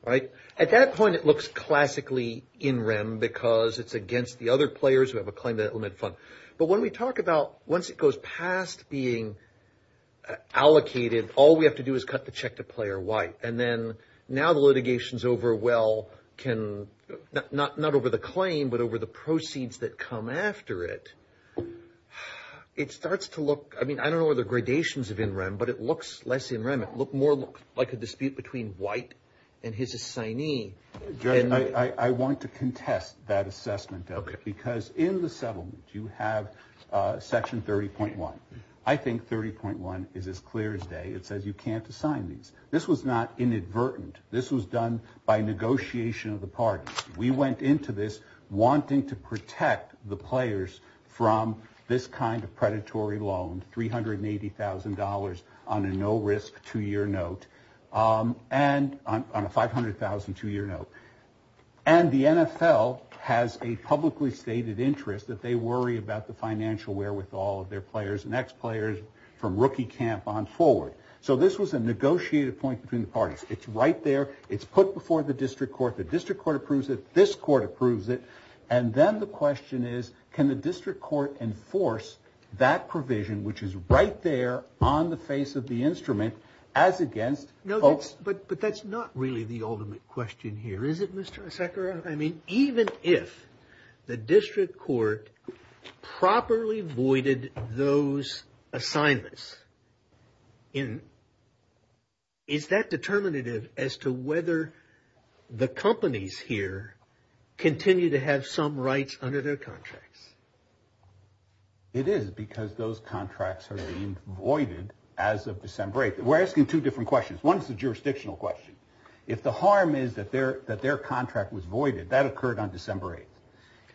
All right? At that point, it looks classically in rem because it's against the other players who have a claim in that fund. But when we talk about once it goes past being allocated, all we have to do is cut the check to Player White. And then now the litigation's over, well, not over the claim, but over the proceeds that come after it. It starts to look, I mean, I don't know the gradations of in rem, but it looks less in rem. It looks more like a dispute between White and his assignee. Jerry, I want to contest that assessment of it because in the settlement you have Section 30.1. I think 30.1 is as clear as day. It says you can't assign these. This was not inadvertent. This was done by negotiation of the parties. We went into this wanting to protect the players from this kind of predatory loan, $380,000 on a no-risk two-year note, on a $500,000 two-year note. And the NFL has a publicly stated interest that they worry about the financial wherewithal of their players and ex-players from rookie camp on forward. So this was a negotiated point between the parties. It's right there. It's put before the district court. The district court approves it. This court approves it. And then the question is can the district court enforce that provision, which is right there on the face of the instrument, as against folks? No, but that's not really the ultimate question here, is it, Mr. Issacharoff? I mean, even if the district court properly voided those assignments, is that determinative as to whether the companies here continue to have some rights under their contracts? It is because those contracts are being voided as of December 8th. We're asking two different questions. One is a jurisdictional question. If the harm is that their contract was voided, that occurred on December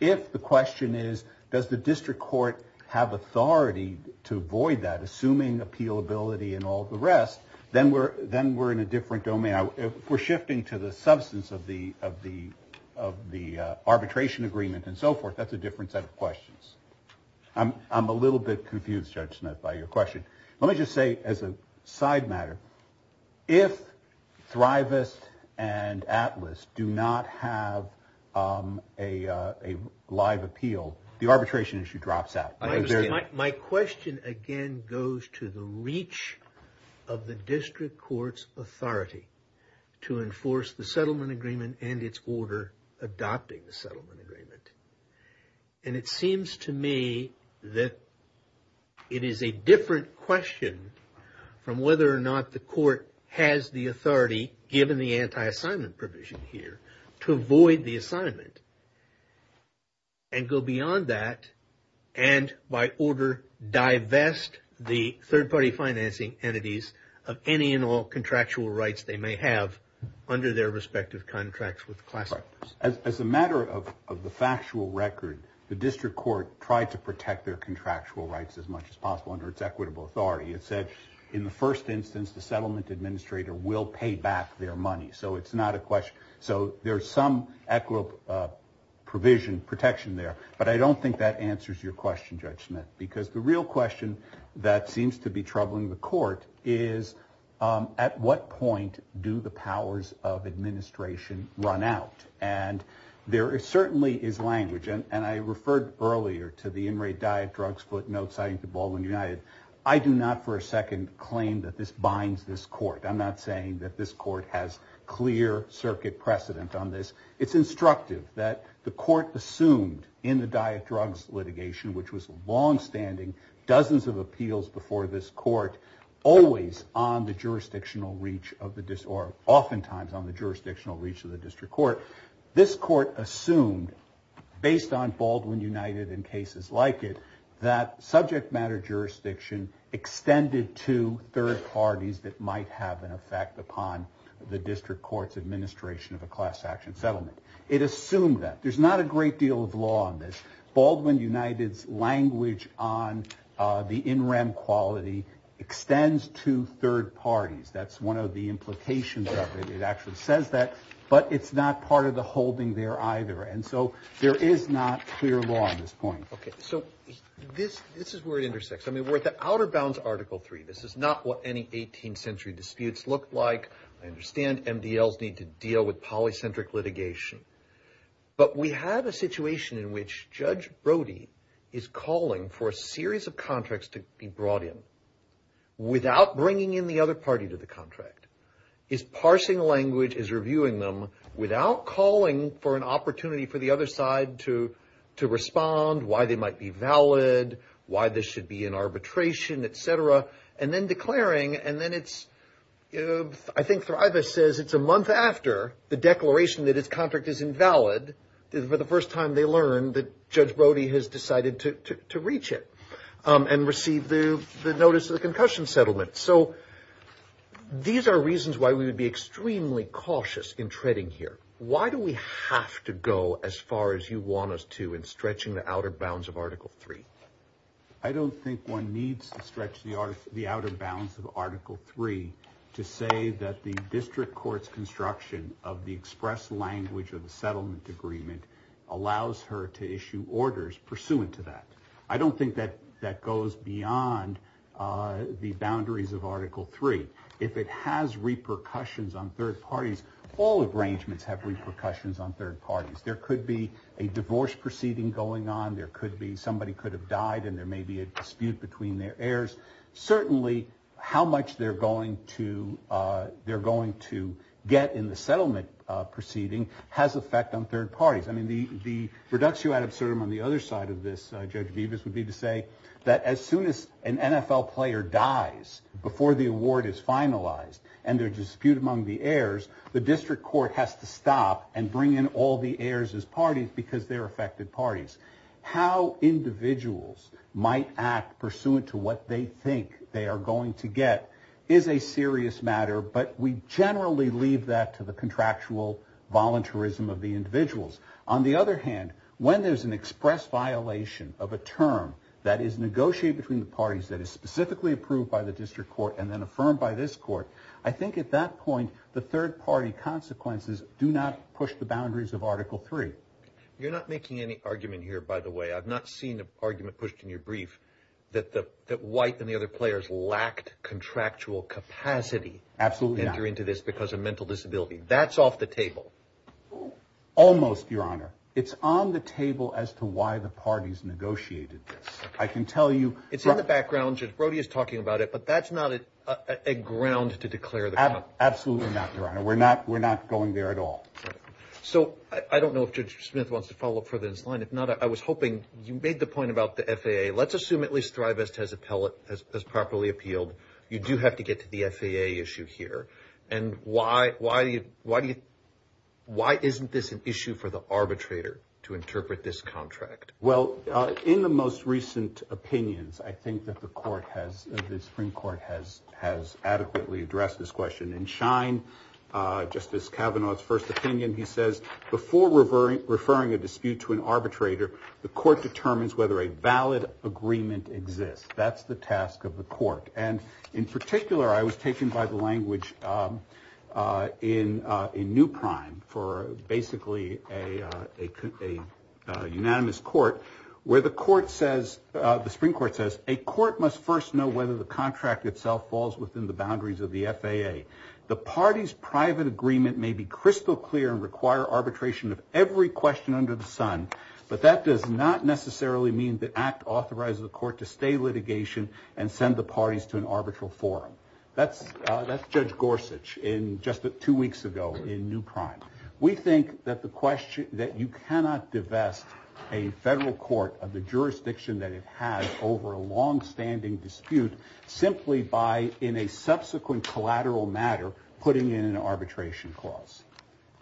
8th. If the question is does the district court have authority to void that assuming appealability and all the rest, then we're in a different domain. We're shifting to the substance of the arbitration agreement and so forth. That's a different set of questions. I'm a little bit confused, Judge Smith, by your question. Let me just say as a side matter, if Thrivist and Atlas do not have a live appeal, the arbitration issue drops out. My question, again, goes to the reach of the district court's authority to enforce the settlement agreement and its order adopting the settlement agreement. And it seems to me that it is a different question from whether or not the court has the authority, given the anti-assignment provision here, to void the assignment and go beyond that and by order divest the third-party financing entities of any and all contractual rights they may have under their respective contracts with the class actors. As a matter of the factual record, the district court tried to protect their contractual rights as much as possible under its equitable authority. It said in the first instance the settlement administrator will pay back their money. So it's not a question. So there's some equitable provision, protection there. But I don't think that answers your question, Judge Smith, because the real question that seems to be troubling the court is at what point do the powers of administration run out? And there certainly is language, and I referred earlier to the in-rate diet, drugs, footnotes, citing the Baldwin United. I do not for a second claim that this binds this court. I'm not saying that this court has clear circuit precedent on this. It's instructive that the court assumed in the diet, drugs litigation, which was longstanding, dozens of appeals before this court, always on the jurisdictional reach of the district, or oftentimes on the jurisdictional reach of the district court, this court assumed, based on Baldwin United and cases like it, that subject matter jurisdiction extended to third parties that might have an effect upon the district court's administration of a class action settlement. It assumed that. There's not a great deal of law on this. Baldwin United's language on the in-rem quality extends to third parties. That's one of the implications of it. It actually says that, but it's not part of the holding there either. And so there is not clear law on this point. Okay. So this is where it intersects. I mean, we're at the outer bounds of Article III. This is not what any 18th century disputes looked like. I understand MDLs need to deal with polycentric litigation. But we have a situation in which Judge Brody is calling for a series of contracts to be brought in without bringing in the other party to the contract. He's parsing language, he's reviewing them, without calling for an opportunity for the other side to respond, why they might be valid, why this should be in arbitration, et cetera, and then declaring. And then it's, I think Thrive says it's a month after the declaration that his contract is invalid, for the first time they learn that Judge Brody has decided to reach it and receive the notice of the concussion settlement. So these are reasons why we would be extremely cautious in treading here. Why do we have to go as far as you want us to in stretching the outer bounds of Article III? I don't think one needs to stretch the outer bounds of Article III to say that the district court's construction of the express language of the settlement agreement allows her to issue orders pursuant to that. I don't think that that goes beyond the boundaries of Article III. If it has repercussions on third parties, all arrangements have repercussions on third parties. There could be a divorce proceeding going on, there could be somebody could have died, and there may be a dispute between their heirs. Certainly, how much they're going to get in the settlement proceeding has effect on third parties. I mean, the reductio ad absurdum on the other side of this, Judge Deivas, would be to say that as soon as an NFL player dies before the award is finalized and there's a dispute among the heirs, the district court has to stop and bring in all the heirs as parties because they're affected parties. How individuals might act pursuant to what they think they are going to get is a serious matter, but we generally leave that to the contractual voluntarism of the individuals. On the other hand, when there's an express violation of a term that is negotiated between the parties that is specifically approved by the district court and then affirmed by this court, I think at that point the third party consequences do not push the boundaries of Article III. You're not making any argument here, by the way. I've not seen an argument pushed in your brief that White and the other players lacked contractual capacity to enter into this because of mental disability. That's off the table. Almost, Your Honor. It's on the table as to why the parties negotiated this. I can tell you— It's in the background. Judge Brody is talking about it, but that's not a ground to declare. Absolutely not, Your Honor. We're not going there at all. So I don't know if Judge Smith wants to follow up further in his line. If not, I was hoping you made the point about the FAA. Let's assume at least Thrivest has properly appealed. You do have to get to the FAA issue here. And why isn't this an issue for the arbitrator to interpret this contract? Well, in the most recent opinions, I think that the Supreme Court has adequately addressed this question. In Schein, Justice Kavanaugh's first opinion, he says, before referring a dispute to an arbitrator, the court determines whether a valid agreement exists. That's the task of the court. And in particular, I was taken by the language in New Prime for basically a unanimous court, where the Supreme Court says, a court must first know whether the contract itself falls within the boundaries of the FAA. The party's private agreement may be crystal clear and require arbitration of every question under the sun, but that does not necessarily mean the act authorizes the court to stay litigation and send the parties to an arbitral forum. That's Judge Gorsuch just two weeks ago in New Prime. We think that you cannot divest a federal court of the jurisdiction that it has over a longstanding dispute simply by, in a subsequent collateral matter, putting in an arbitration clause.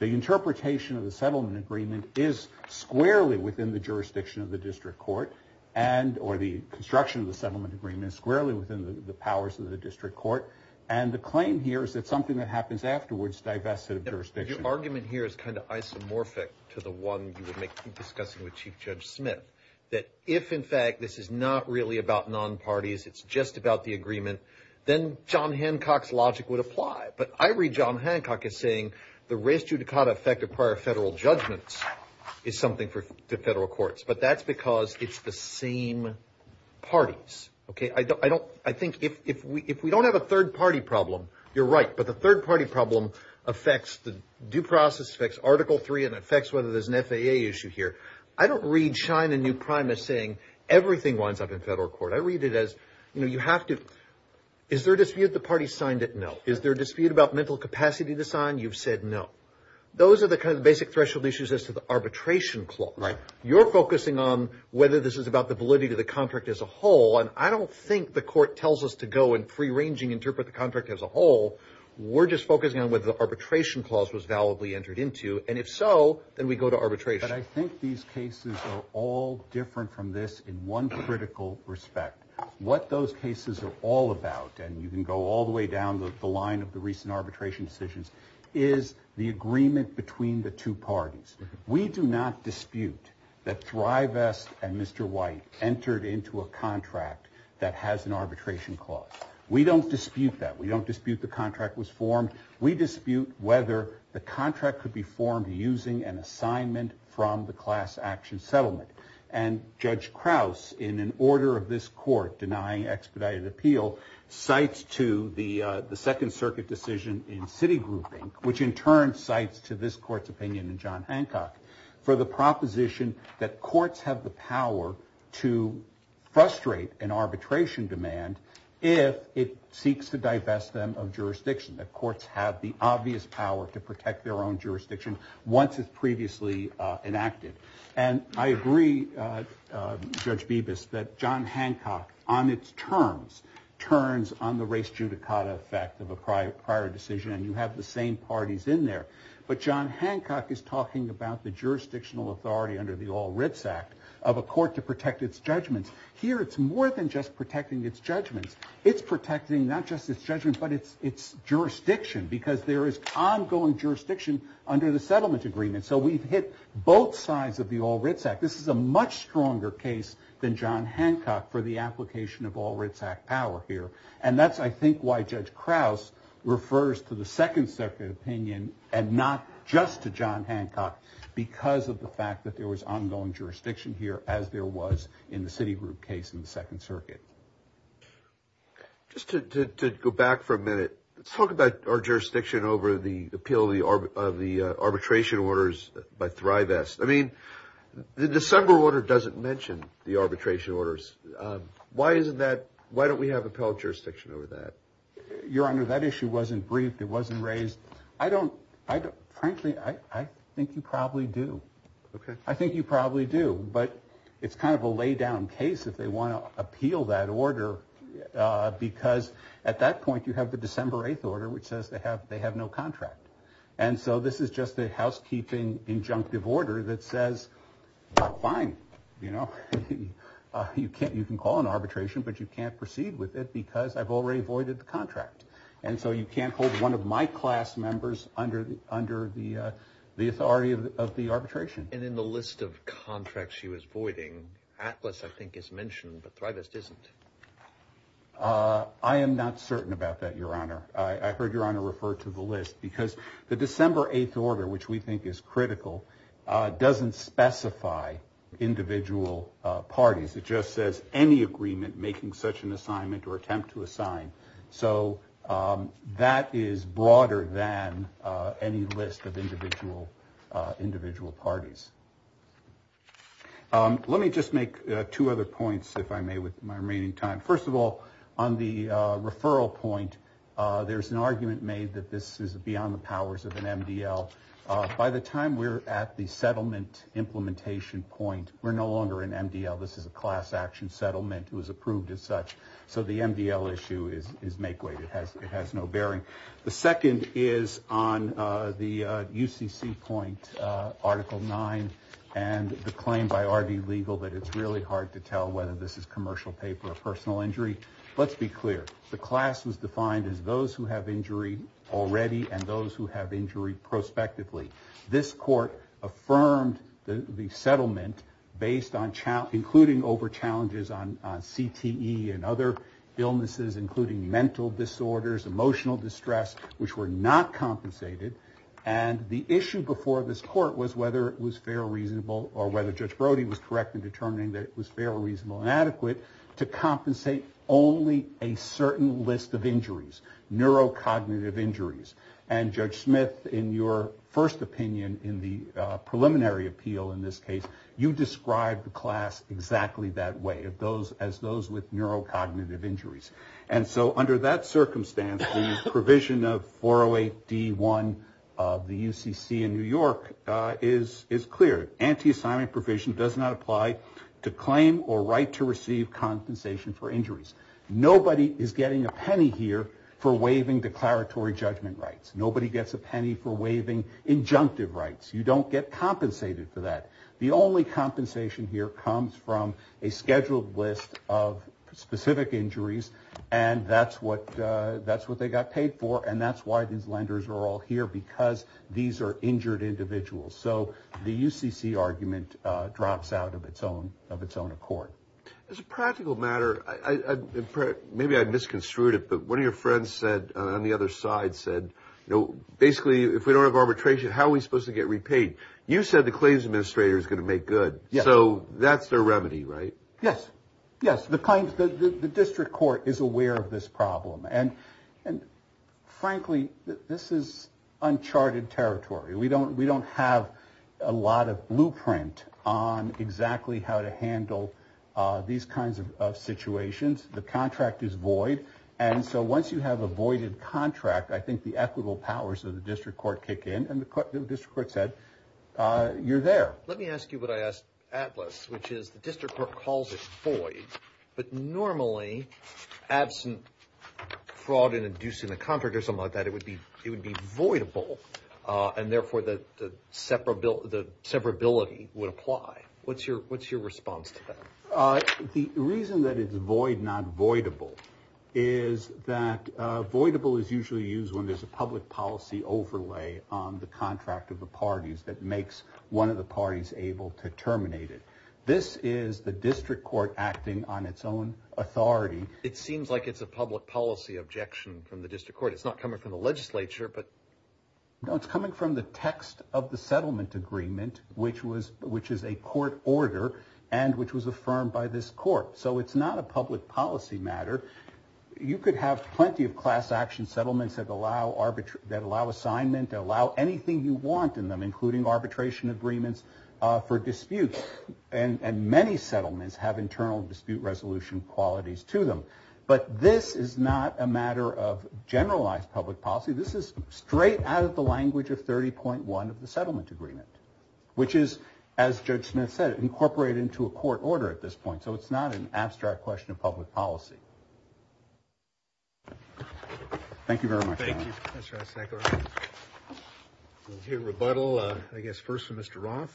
The interpretation of the settlement agreement is squarely within the jurisdiction of the district court, or the construction of the settlement agreement is squarely within the powers of the district court, and the claim here is that something that happens afterwards divests it of jurisdiction. Your argument here is kind of isomorphic to the one you were discussing with Chief Judge Smith, that if, in fact, this is not really about non-parties, it's just about the agreement, then John Hancock's logic would apply. But I read John Hancock as saying the res judicata effect of prior federal judgments is something for the federal courts, but that's because it's the same parties. I think if we don't have a third-party problem, you're right, but the third-party problem affects the due process, affects Article III, and affects whether there's an FAA issue here. I don't read Shine and New Prime as saying everything winds up in federal court. I read it as, you know, you have to – is there a dispute the parties signed it? No. Is there a dispute about mental capacity to sign? You've said no. Those are the kind of basic threshold issues as to the arbitration clause. You're focusing on whether this is about the validity of the contract as a whole, and I don't think the court tells us to go and free-ranging interpret the contract as a whole. We're just focusing on whether the arbitration clause was validly entered into, and if so, then we go to arbitration. But I think these cases are all different from this in one critical respect. What those cases are all about, and you can go all the way down the line of the recent arbitration decisions, is the agreement between the two parties. We do not dispute that Thrive S. and Mr. White entered into a contract that has an arbitration clause. We don't dispute that. We don't dispute the contract was formed. We dispute whether the contract could be formed using an assignment from the class action settlement. And Judge Krauss, in an order of this court denying expedited appeal, cites to the Second Circuit decision in city grouping, which in turn cites to this court's opinion in John Hancock, for the proposition that courts have the power to frustrate an arbitration demand if it seeks to divest them of jurisdiction. That courts have the obvious power to protect their own jurisdiction once it's previously enacted. And I agree, Judge Bibas, that John Hancock, on its terms, turns on the race judicata effect of a prior decision, and you have the same parties in there. But John Hancock is talking about the jurisdictional authority under the All Writs Act of a court to protect its judgment. Here, it's more than just protecting its judgment. It's protecting not just its judgment, but its jurisdiction, because there is ongoing jurisdiction under the settlement agreement. So we've hit both sides of the All Writs Act. This is a much stronger case than John Hancock for the application of All Writs Act power here. And that's, I think, why Judge Krauss refers to the Second Circuit opinion and not just to John Hancock, because of the fact that there was ongoing jurisdiction here, as there was in the Citigroup case in the Second Circuit. Just to go back for a minute, let's talk about our jurisdiction over the appeal of the arbitration orders by Thrive S. I mean, the December order doesn't mention the arbitration orders. Why isn't that – why don't we have appellate jurisdiction over that? Your Honor, that issue wasn't briefed. It wasn't raised. I mean, I don't – frankly, I think you probably do. I think you probably do, but it's kind of a laid-down case if they want to appeal that order, because at that point you have the December 8th order, which says they have no contract. And so this is just a housekeeping injunctive order that says, well, fine, you know. You can call an arbitration, but you can't proceed with it because I've already voided the contract. And so you can't hold one of my class members under the authority of the arbitration. And in the list of contracts she was voiding, Atlas, I think, is mentioned, but Thrive S isn't. I am not certain about that, Your Honor. I heard Your Honor refer to the list, because the December 8th order, which we think is critical, doesn't specify individual parties. It just says any agreement making such an assignment or attempt to assign. So that is broader than any list of individual parties. Let me just make two other points, if I may, with my remaining time. First of all, on the referral point, there's an argument made that this is beyond the powers of an MDL. By the time we're at the settlement implementation point, we're no longer an MDL. This is a class action settlement. It was approved as such. So the MDL issue is make way. It has no bearing. The second is on the UCC point, Article 9, and the claim by RD Legal that it's really hard to tell whether this is commercial pay for a personal injury. Let's be clear. The class was defined as those who have injury already and those who have injury prospectively. This court affirmed the settlement, including over challenges on CTE and other illnesses, including mental disorders, emotional distress, which were not compensated. And the issue before this court was whether it was fair or reasonable or whether Judge Brody was correct in determining that it was fair or reasonable and adequate to compensate only a certain list of injuries, neurocognitive injuries. And Judge Smith, in your first opinion in the preliminary appeal in this case, you described the class exactly that way, as those with neurocognitive injuries. And so under that circumstance, the provision of 408D1 of the UCC in New York is clear. Anti-assignment provision does not apply to claim or right to receive compensation for injuries. Nobody is getting a penny here for waiving declaratory judgment rights. Nobody gets a penny for waiving injunctive rights. You don't get compensated for that. The only compensation here comes from a scheduled list of specific injuries, and that's what they got paid for, and that's why these lenders are all here, because these are injured individuals. So the UCC argument drops out of its own accord. As a practical matter, maybe I misconstrued it, but one of your friends on the other side said, basically, if we don't have arbitration, how are we supposed to get repaid? You said the claims administrator is going to make good. So that's their remedy, right? Yes. Yes, the district court is aware of this problem. And frankly, this is uncharted territory. We don't have a lot of blueprint on exactly how to handle these kinds of situations. The contract is void, and so once you have a voided contract, I think the equitable powers of the district court kick in, and the district court said, you're there. Let me ask you what I asked Atlas, which is the district court calls it void, but normally, absent fraud in inducing the contract or something like that, it would be voidable. And therefore, the separability would apply. What's your response to that? The reason that it's void, not voidable, is that voidable is usually used when there's a public policy overlay on the contract of the parties that makes one of the parties able to terminate it. This is the district court acting on its own authority. It seems like it's a public policy objection from the district court. It's not coming from the legislature. No, it's coming from the text of the settlement agreement, which is a court order and which was affirmed by this court. So it's not a public policy matter. You could have plenty of class action settlements that allow assignment, that allow anything you want in them, including arbitration agreements for disputes. And many settlements have internal dispute resolution qualities to them. But this is not a matter of generalized public policy. This is straight out of the language of 30.1 of the settlement agreement, which is, as Judge Smith said, incorporated into a court order at this point. So it's not an abstract question of public policy. Thank you very much. Rebuttal, I guess, first, Mr. Ross.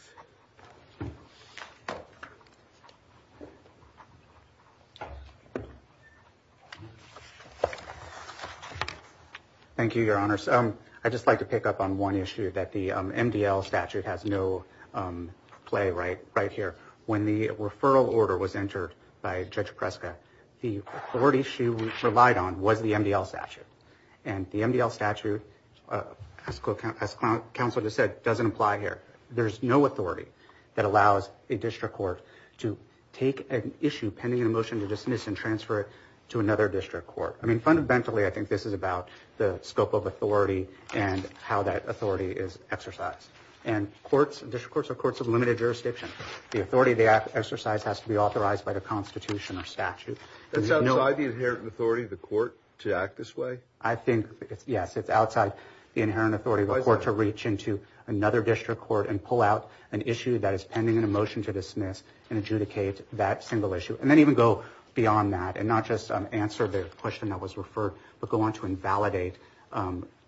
Thank you, Your Honor. So I just like to pick up on one issue that the MDL statute has no play right right here. When the referral order was entered by Judge Prescott, the authority she relied on was the MDL statute. And the MDL statute, as counsel just said, doesn't apply here. There's no authority that allows a district court to take an issue pending a motion to dismiss and transfer it to another district court. I mean, fundamentally, I think this is about the scope of authority and how that authority is exercised. District courts are courts of limited jurisdiction. The authority they exercise has to be authorized by the Constitution or statute. It's outside the inherent authority of the court to act this way? I think, yes, it's outside the inherent authority of the court to reach into another district court and pull out an issue that is pending a motion to dismiss and adjudicate that single issue. And then even go beyond that and not just answer the question that was referred, but go on to invalidate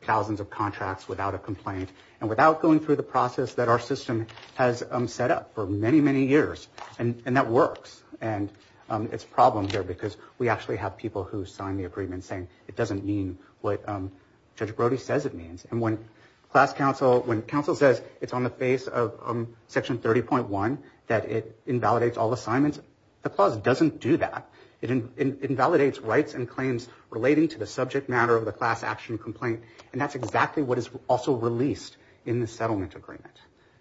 thousands of contracts without a complaint. And without going through the process that our system has set up for many, many years. And that works. And it's a problem here because we actually have people who sign the agreement saying it doesn't mean what Judge Brody says it means. And when counsel says it's on the face of Section 30.1 that it invalidates all assignments, the clause doesn't do that. It invalidates rights and claims relating to the subject matter of the class action complaint. And that's exactly what is also released in the settlement agreement.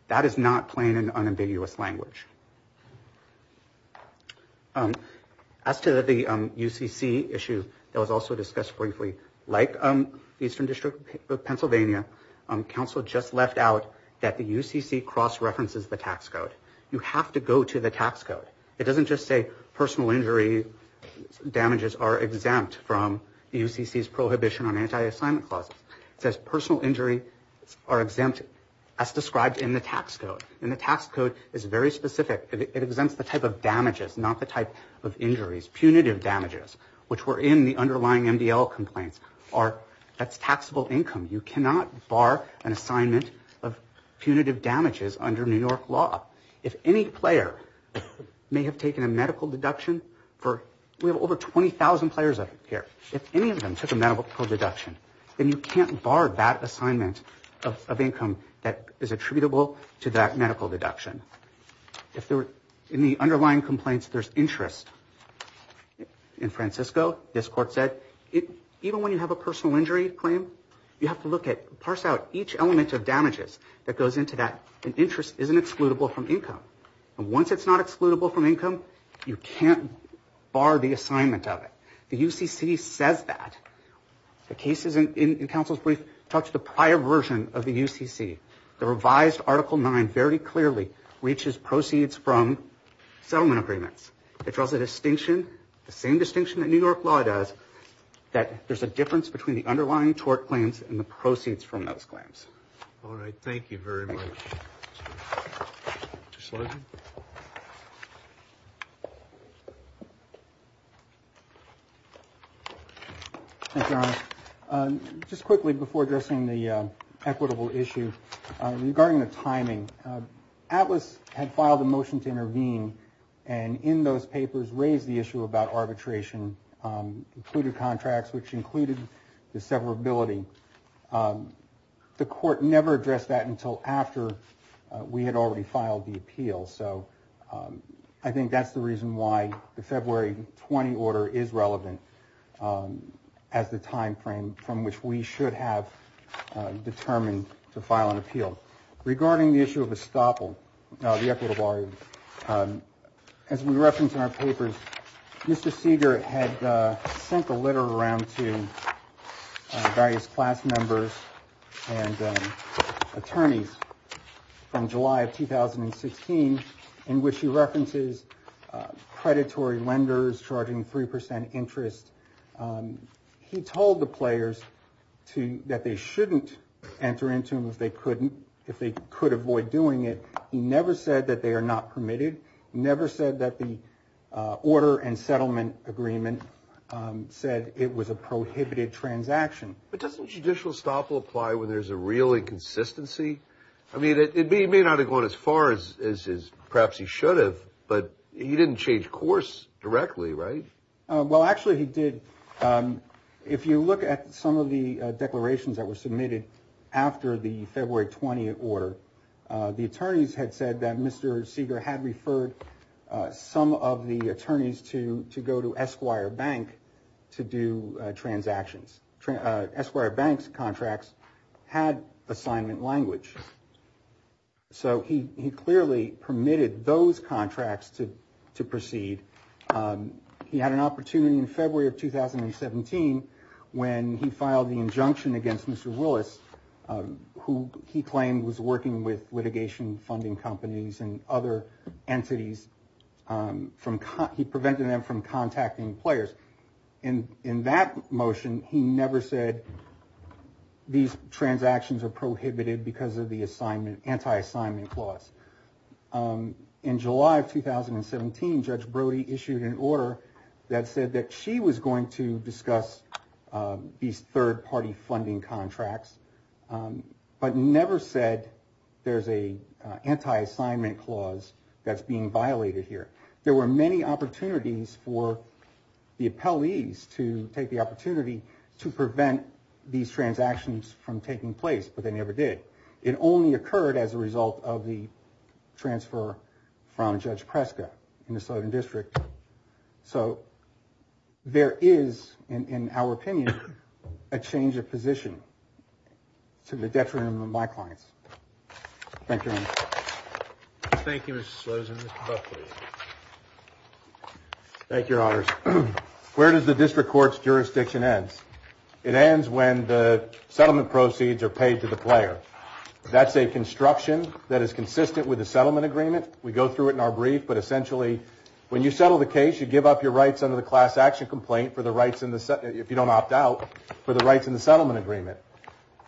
That is not plain and unambiguous language. As to the UCC issue that was also discussed briefly, like Eastern District of Pennsylvania, counsel just left out that the UCC cross-references the tax code. You have to go to the tax code. It doesn't just say personal injury damages are exempt from UCC's prohibition on anti-assignment clause. It says personal injury are exempt as described in the tax code. And the tax code is very specific. It exempts the type of damages, not the type of injuries. Punitive damages, which were in the underlying MDL complaint, are a taxable income. You cannot bar an assignment of punitive damages under New York law. If any player may have taken a medical deduction, we have over 20,000 players here, if any of them took a medical deduction, then you can't bar that assignment of income that is attributable to that medical deduction. In the underlying complaints, there's interest. In Francisco, this court said, even when you have a personal injury claim, you have to parse out each element of damages that goes into that. And interest isn't excludable from income. And once it's not excludable from income, you can't bar the assignment of it. The UCC says that. The cases in counsel's briefs talk to the prior version of the UCC. The revised Article 9 very clearly reaches proceeds from settlement agreements. It draws a distinction, the same distinction that New York law does, that there's a difference between the underlying tort claims and the proceeds from those claims. All right, thank you very much. Just quickly before addressing the equitable issue, regarding the timing, ATLAS had filed a motion to intervene, and in those papers raised the issue about arbitration, including contracts, which included the severability. The court never addressed that until after we had already filed the appeal. So I think that's the reason why the February 20 order is relevant as the timeframe from which we should have determined to file an appeal. Regarding the issue of estoppel, the equitable argument, as we referenced in our papers, Mr. Seeger had sent the letter around to various class members and attorneys from July of 2016, in which he references predatory lenders charging 3% interest. He told the players that they shouldn't enter into them if they could avoid doing it. He never said that they are not permitted. He never said that the order and settlement agreement said it was a prohibited transaction. But doesn't judicial estoppel apply when there's a real inconsistency? I mean, he may not have gone as far as perhaps he should have, but he didn't change course directly, right? Well, actually he did. If you look at some of the declarations that were submitted after the February 20 order, the attorneys had said that Mr. Seeger had referred some of the attorneys to go to Esquire Bank to do transactions. Esquire Bank's contracts had assignment language. So he clearly permitted those contracts to proceed. He had an opportunity in February of 2017 when he filed the injunction against Mr. Willis, who he claimed was working with litigation funding companies and other entities. He prevented them from contacting players. In that motion, he never said these transactions are prohibited because of the anti-assignment clause. There were many opportunities for the appellees to take the opportunity to prevent these transactions from taking place, but they never did. It only occurred as a result of the transfer from Judge Prescott in the Southern District. So there is, in our opinion, a change of position to the deference of my client. Thank you, Your Honors. Where does the district court's jurisdiction end? It ends when the settlement proceeds are paid to the player. That's a construction that is consistent with the settlement agreement. We go through it in our brief, but essentially when you settle the case, you give up your rights under the class action complaint, if you don't opt out, for the rights in the settlement agreement.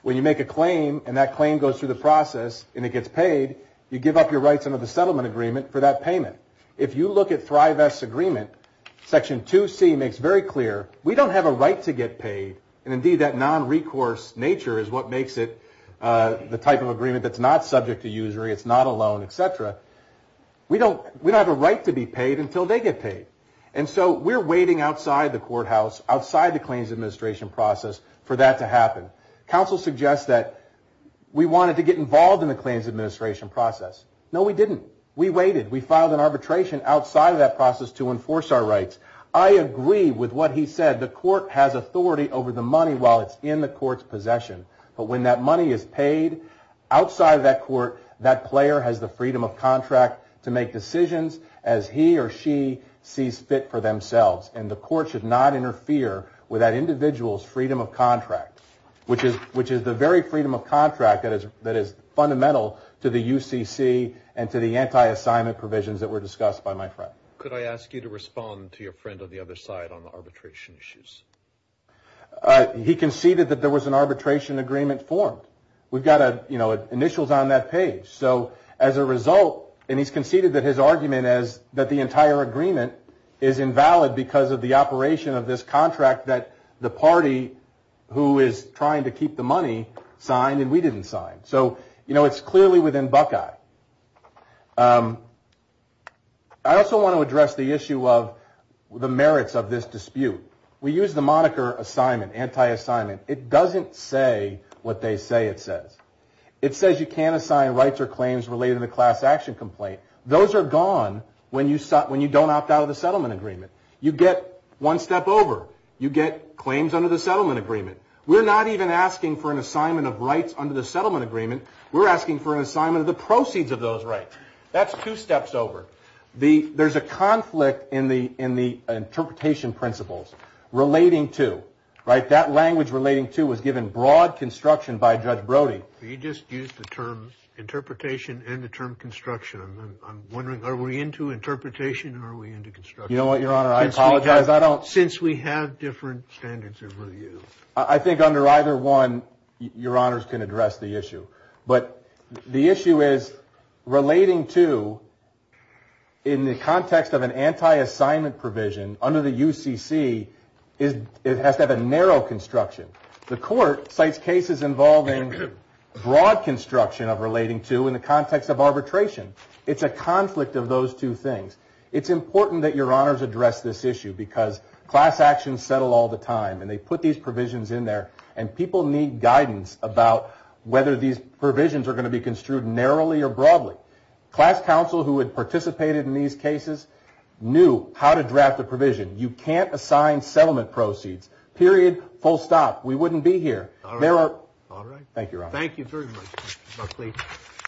When you make a claim and that claim goes through the process and it gets paid, you give up your rights under the settlement agreement for that payment. If you look at Thrive S Agreement, Section 2C makes very clear, we don't have a right to get paid, and indeed that non-recourse nature is what makes it the type of agreement that's not subject to usury, it's not a loan, et cetera. We don't have a right to be paid until they get paid. And so we're waiting outside the courthouse, outside the claims administration process, for that to happen. Counsel suggests that we wanted to get involved in the claims administration process. No, we didn't. We waited. We filed an arbitration outside of that process to enforce our rights. I agree with what he said. The court has authority over the money while it's in the court's possession. But when that money is paid, outside of that court, that player has the freedom of contract to make decisions as he or she sees fit for themselves. And the court should not interfere with that individual's freedom of contract, which is the very freedom of contract that is fundamental to the UCC and to the anti-assignment provisions that were discussed by my friend. Could I ask you to respond to your friend on the other side on the arbitration issues? He conceded that there was an arbitration agreement formed. We've got initials on that page. So as a result, and he's conceded that his argument is that the entire agreement is invalid because of the operation of this contract that the party who is trying to keep the money signed and we didn't sign. So it's clearly within Buckeye. I also want to address the issue of the merits of this dispute. We use the moniker assignment, anti-assignment. It doesn't say what they say it says. It says you can't assign rights or claims related to the class action complaint. Those are gone when you don't opt out of the settlement agreement. You get one step over. You get claims under the settlement agreement. We're not even asking for an assignment of rights under the settlement agreement. We're asking for an assignment of the proceeds of those rights. That's two steps over. There's a conflict in the interpretation principles relating to. That language relating to was given broad construction by Judge Brody. You just used the term interpretation and the term construction. I'm wondering, are we into interpretation or are we into construction? You know what, Your Honor, I apologize. Since we have different standards of review. I think under either one, Your Honors can address the issue. But the issue is relating to in the context of an anti-assignment provision under the UCC, it has to have a narrow construction. The court cites cases involving broad construction of relating to in the context of arbitration. It's a conflict of those two things. It's important that Your Honors address this issue because class actions settle all the time. And they put these provisions in there. And people need guidance about whether these provisions are going to be construed narrowly or broadly. Class counsel who had participated in these cases knew how to draft the provision. You can't assign settlement proceeds, period, full stop. We wouldn't be here. All right. Thank you, Your Honor. Thank you very much, Mr. Buckley.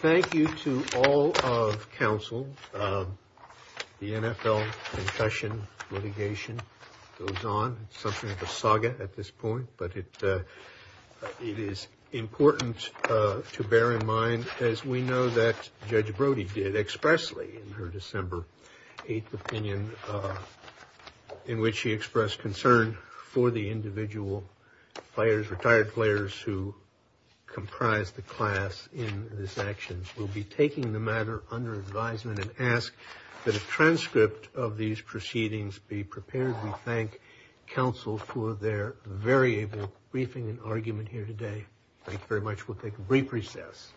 Thank you to all of counsel. The NFL concession litigation goes on. Something of a saga at this point. But it is important to bear in mind, as we know that Judge Brody did expressly in her December 8th opinion, in which she expressed concern for the individual players, retired players, who comprise the class in this action. We'll be taking the matter under advisement and ask that a transcript of these proceedings be prepared. We thank counsel for their very able briefing and argument here today. Thank you very much. We'll take a brief recess.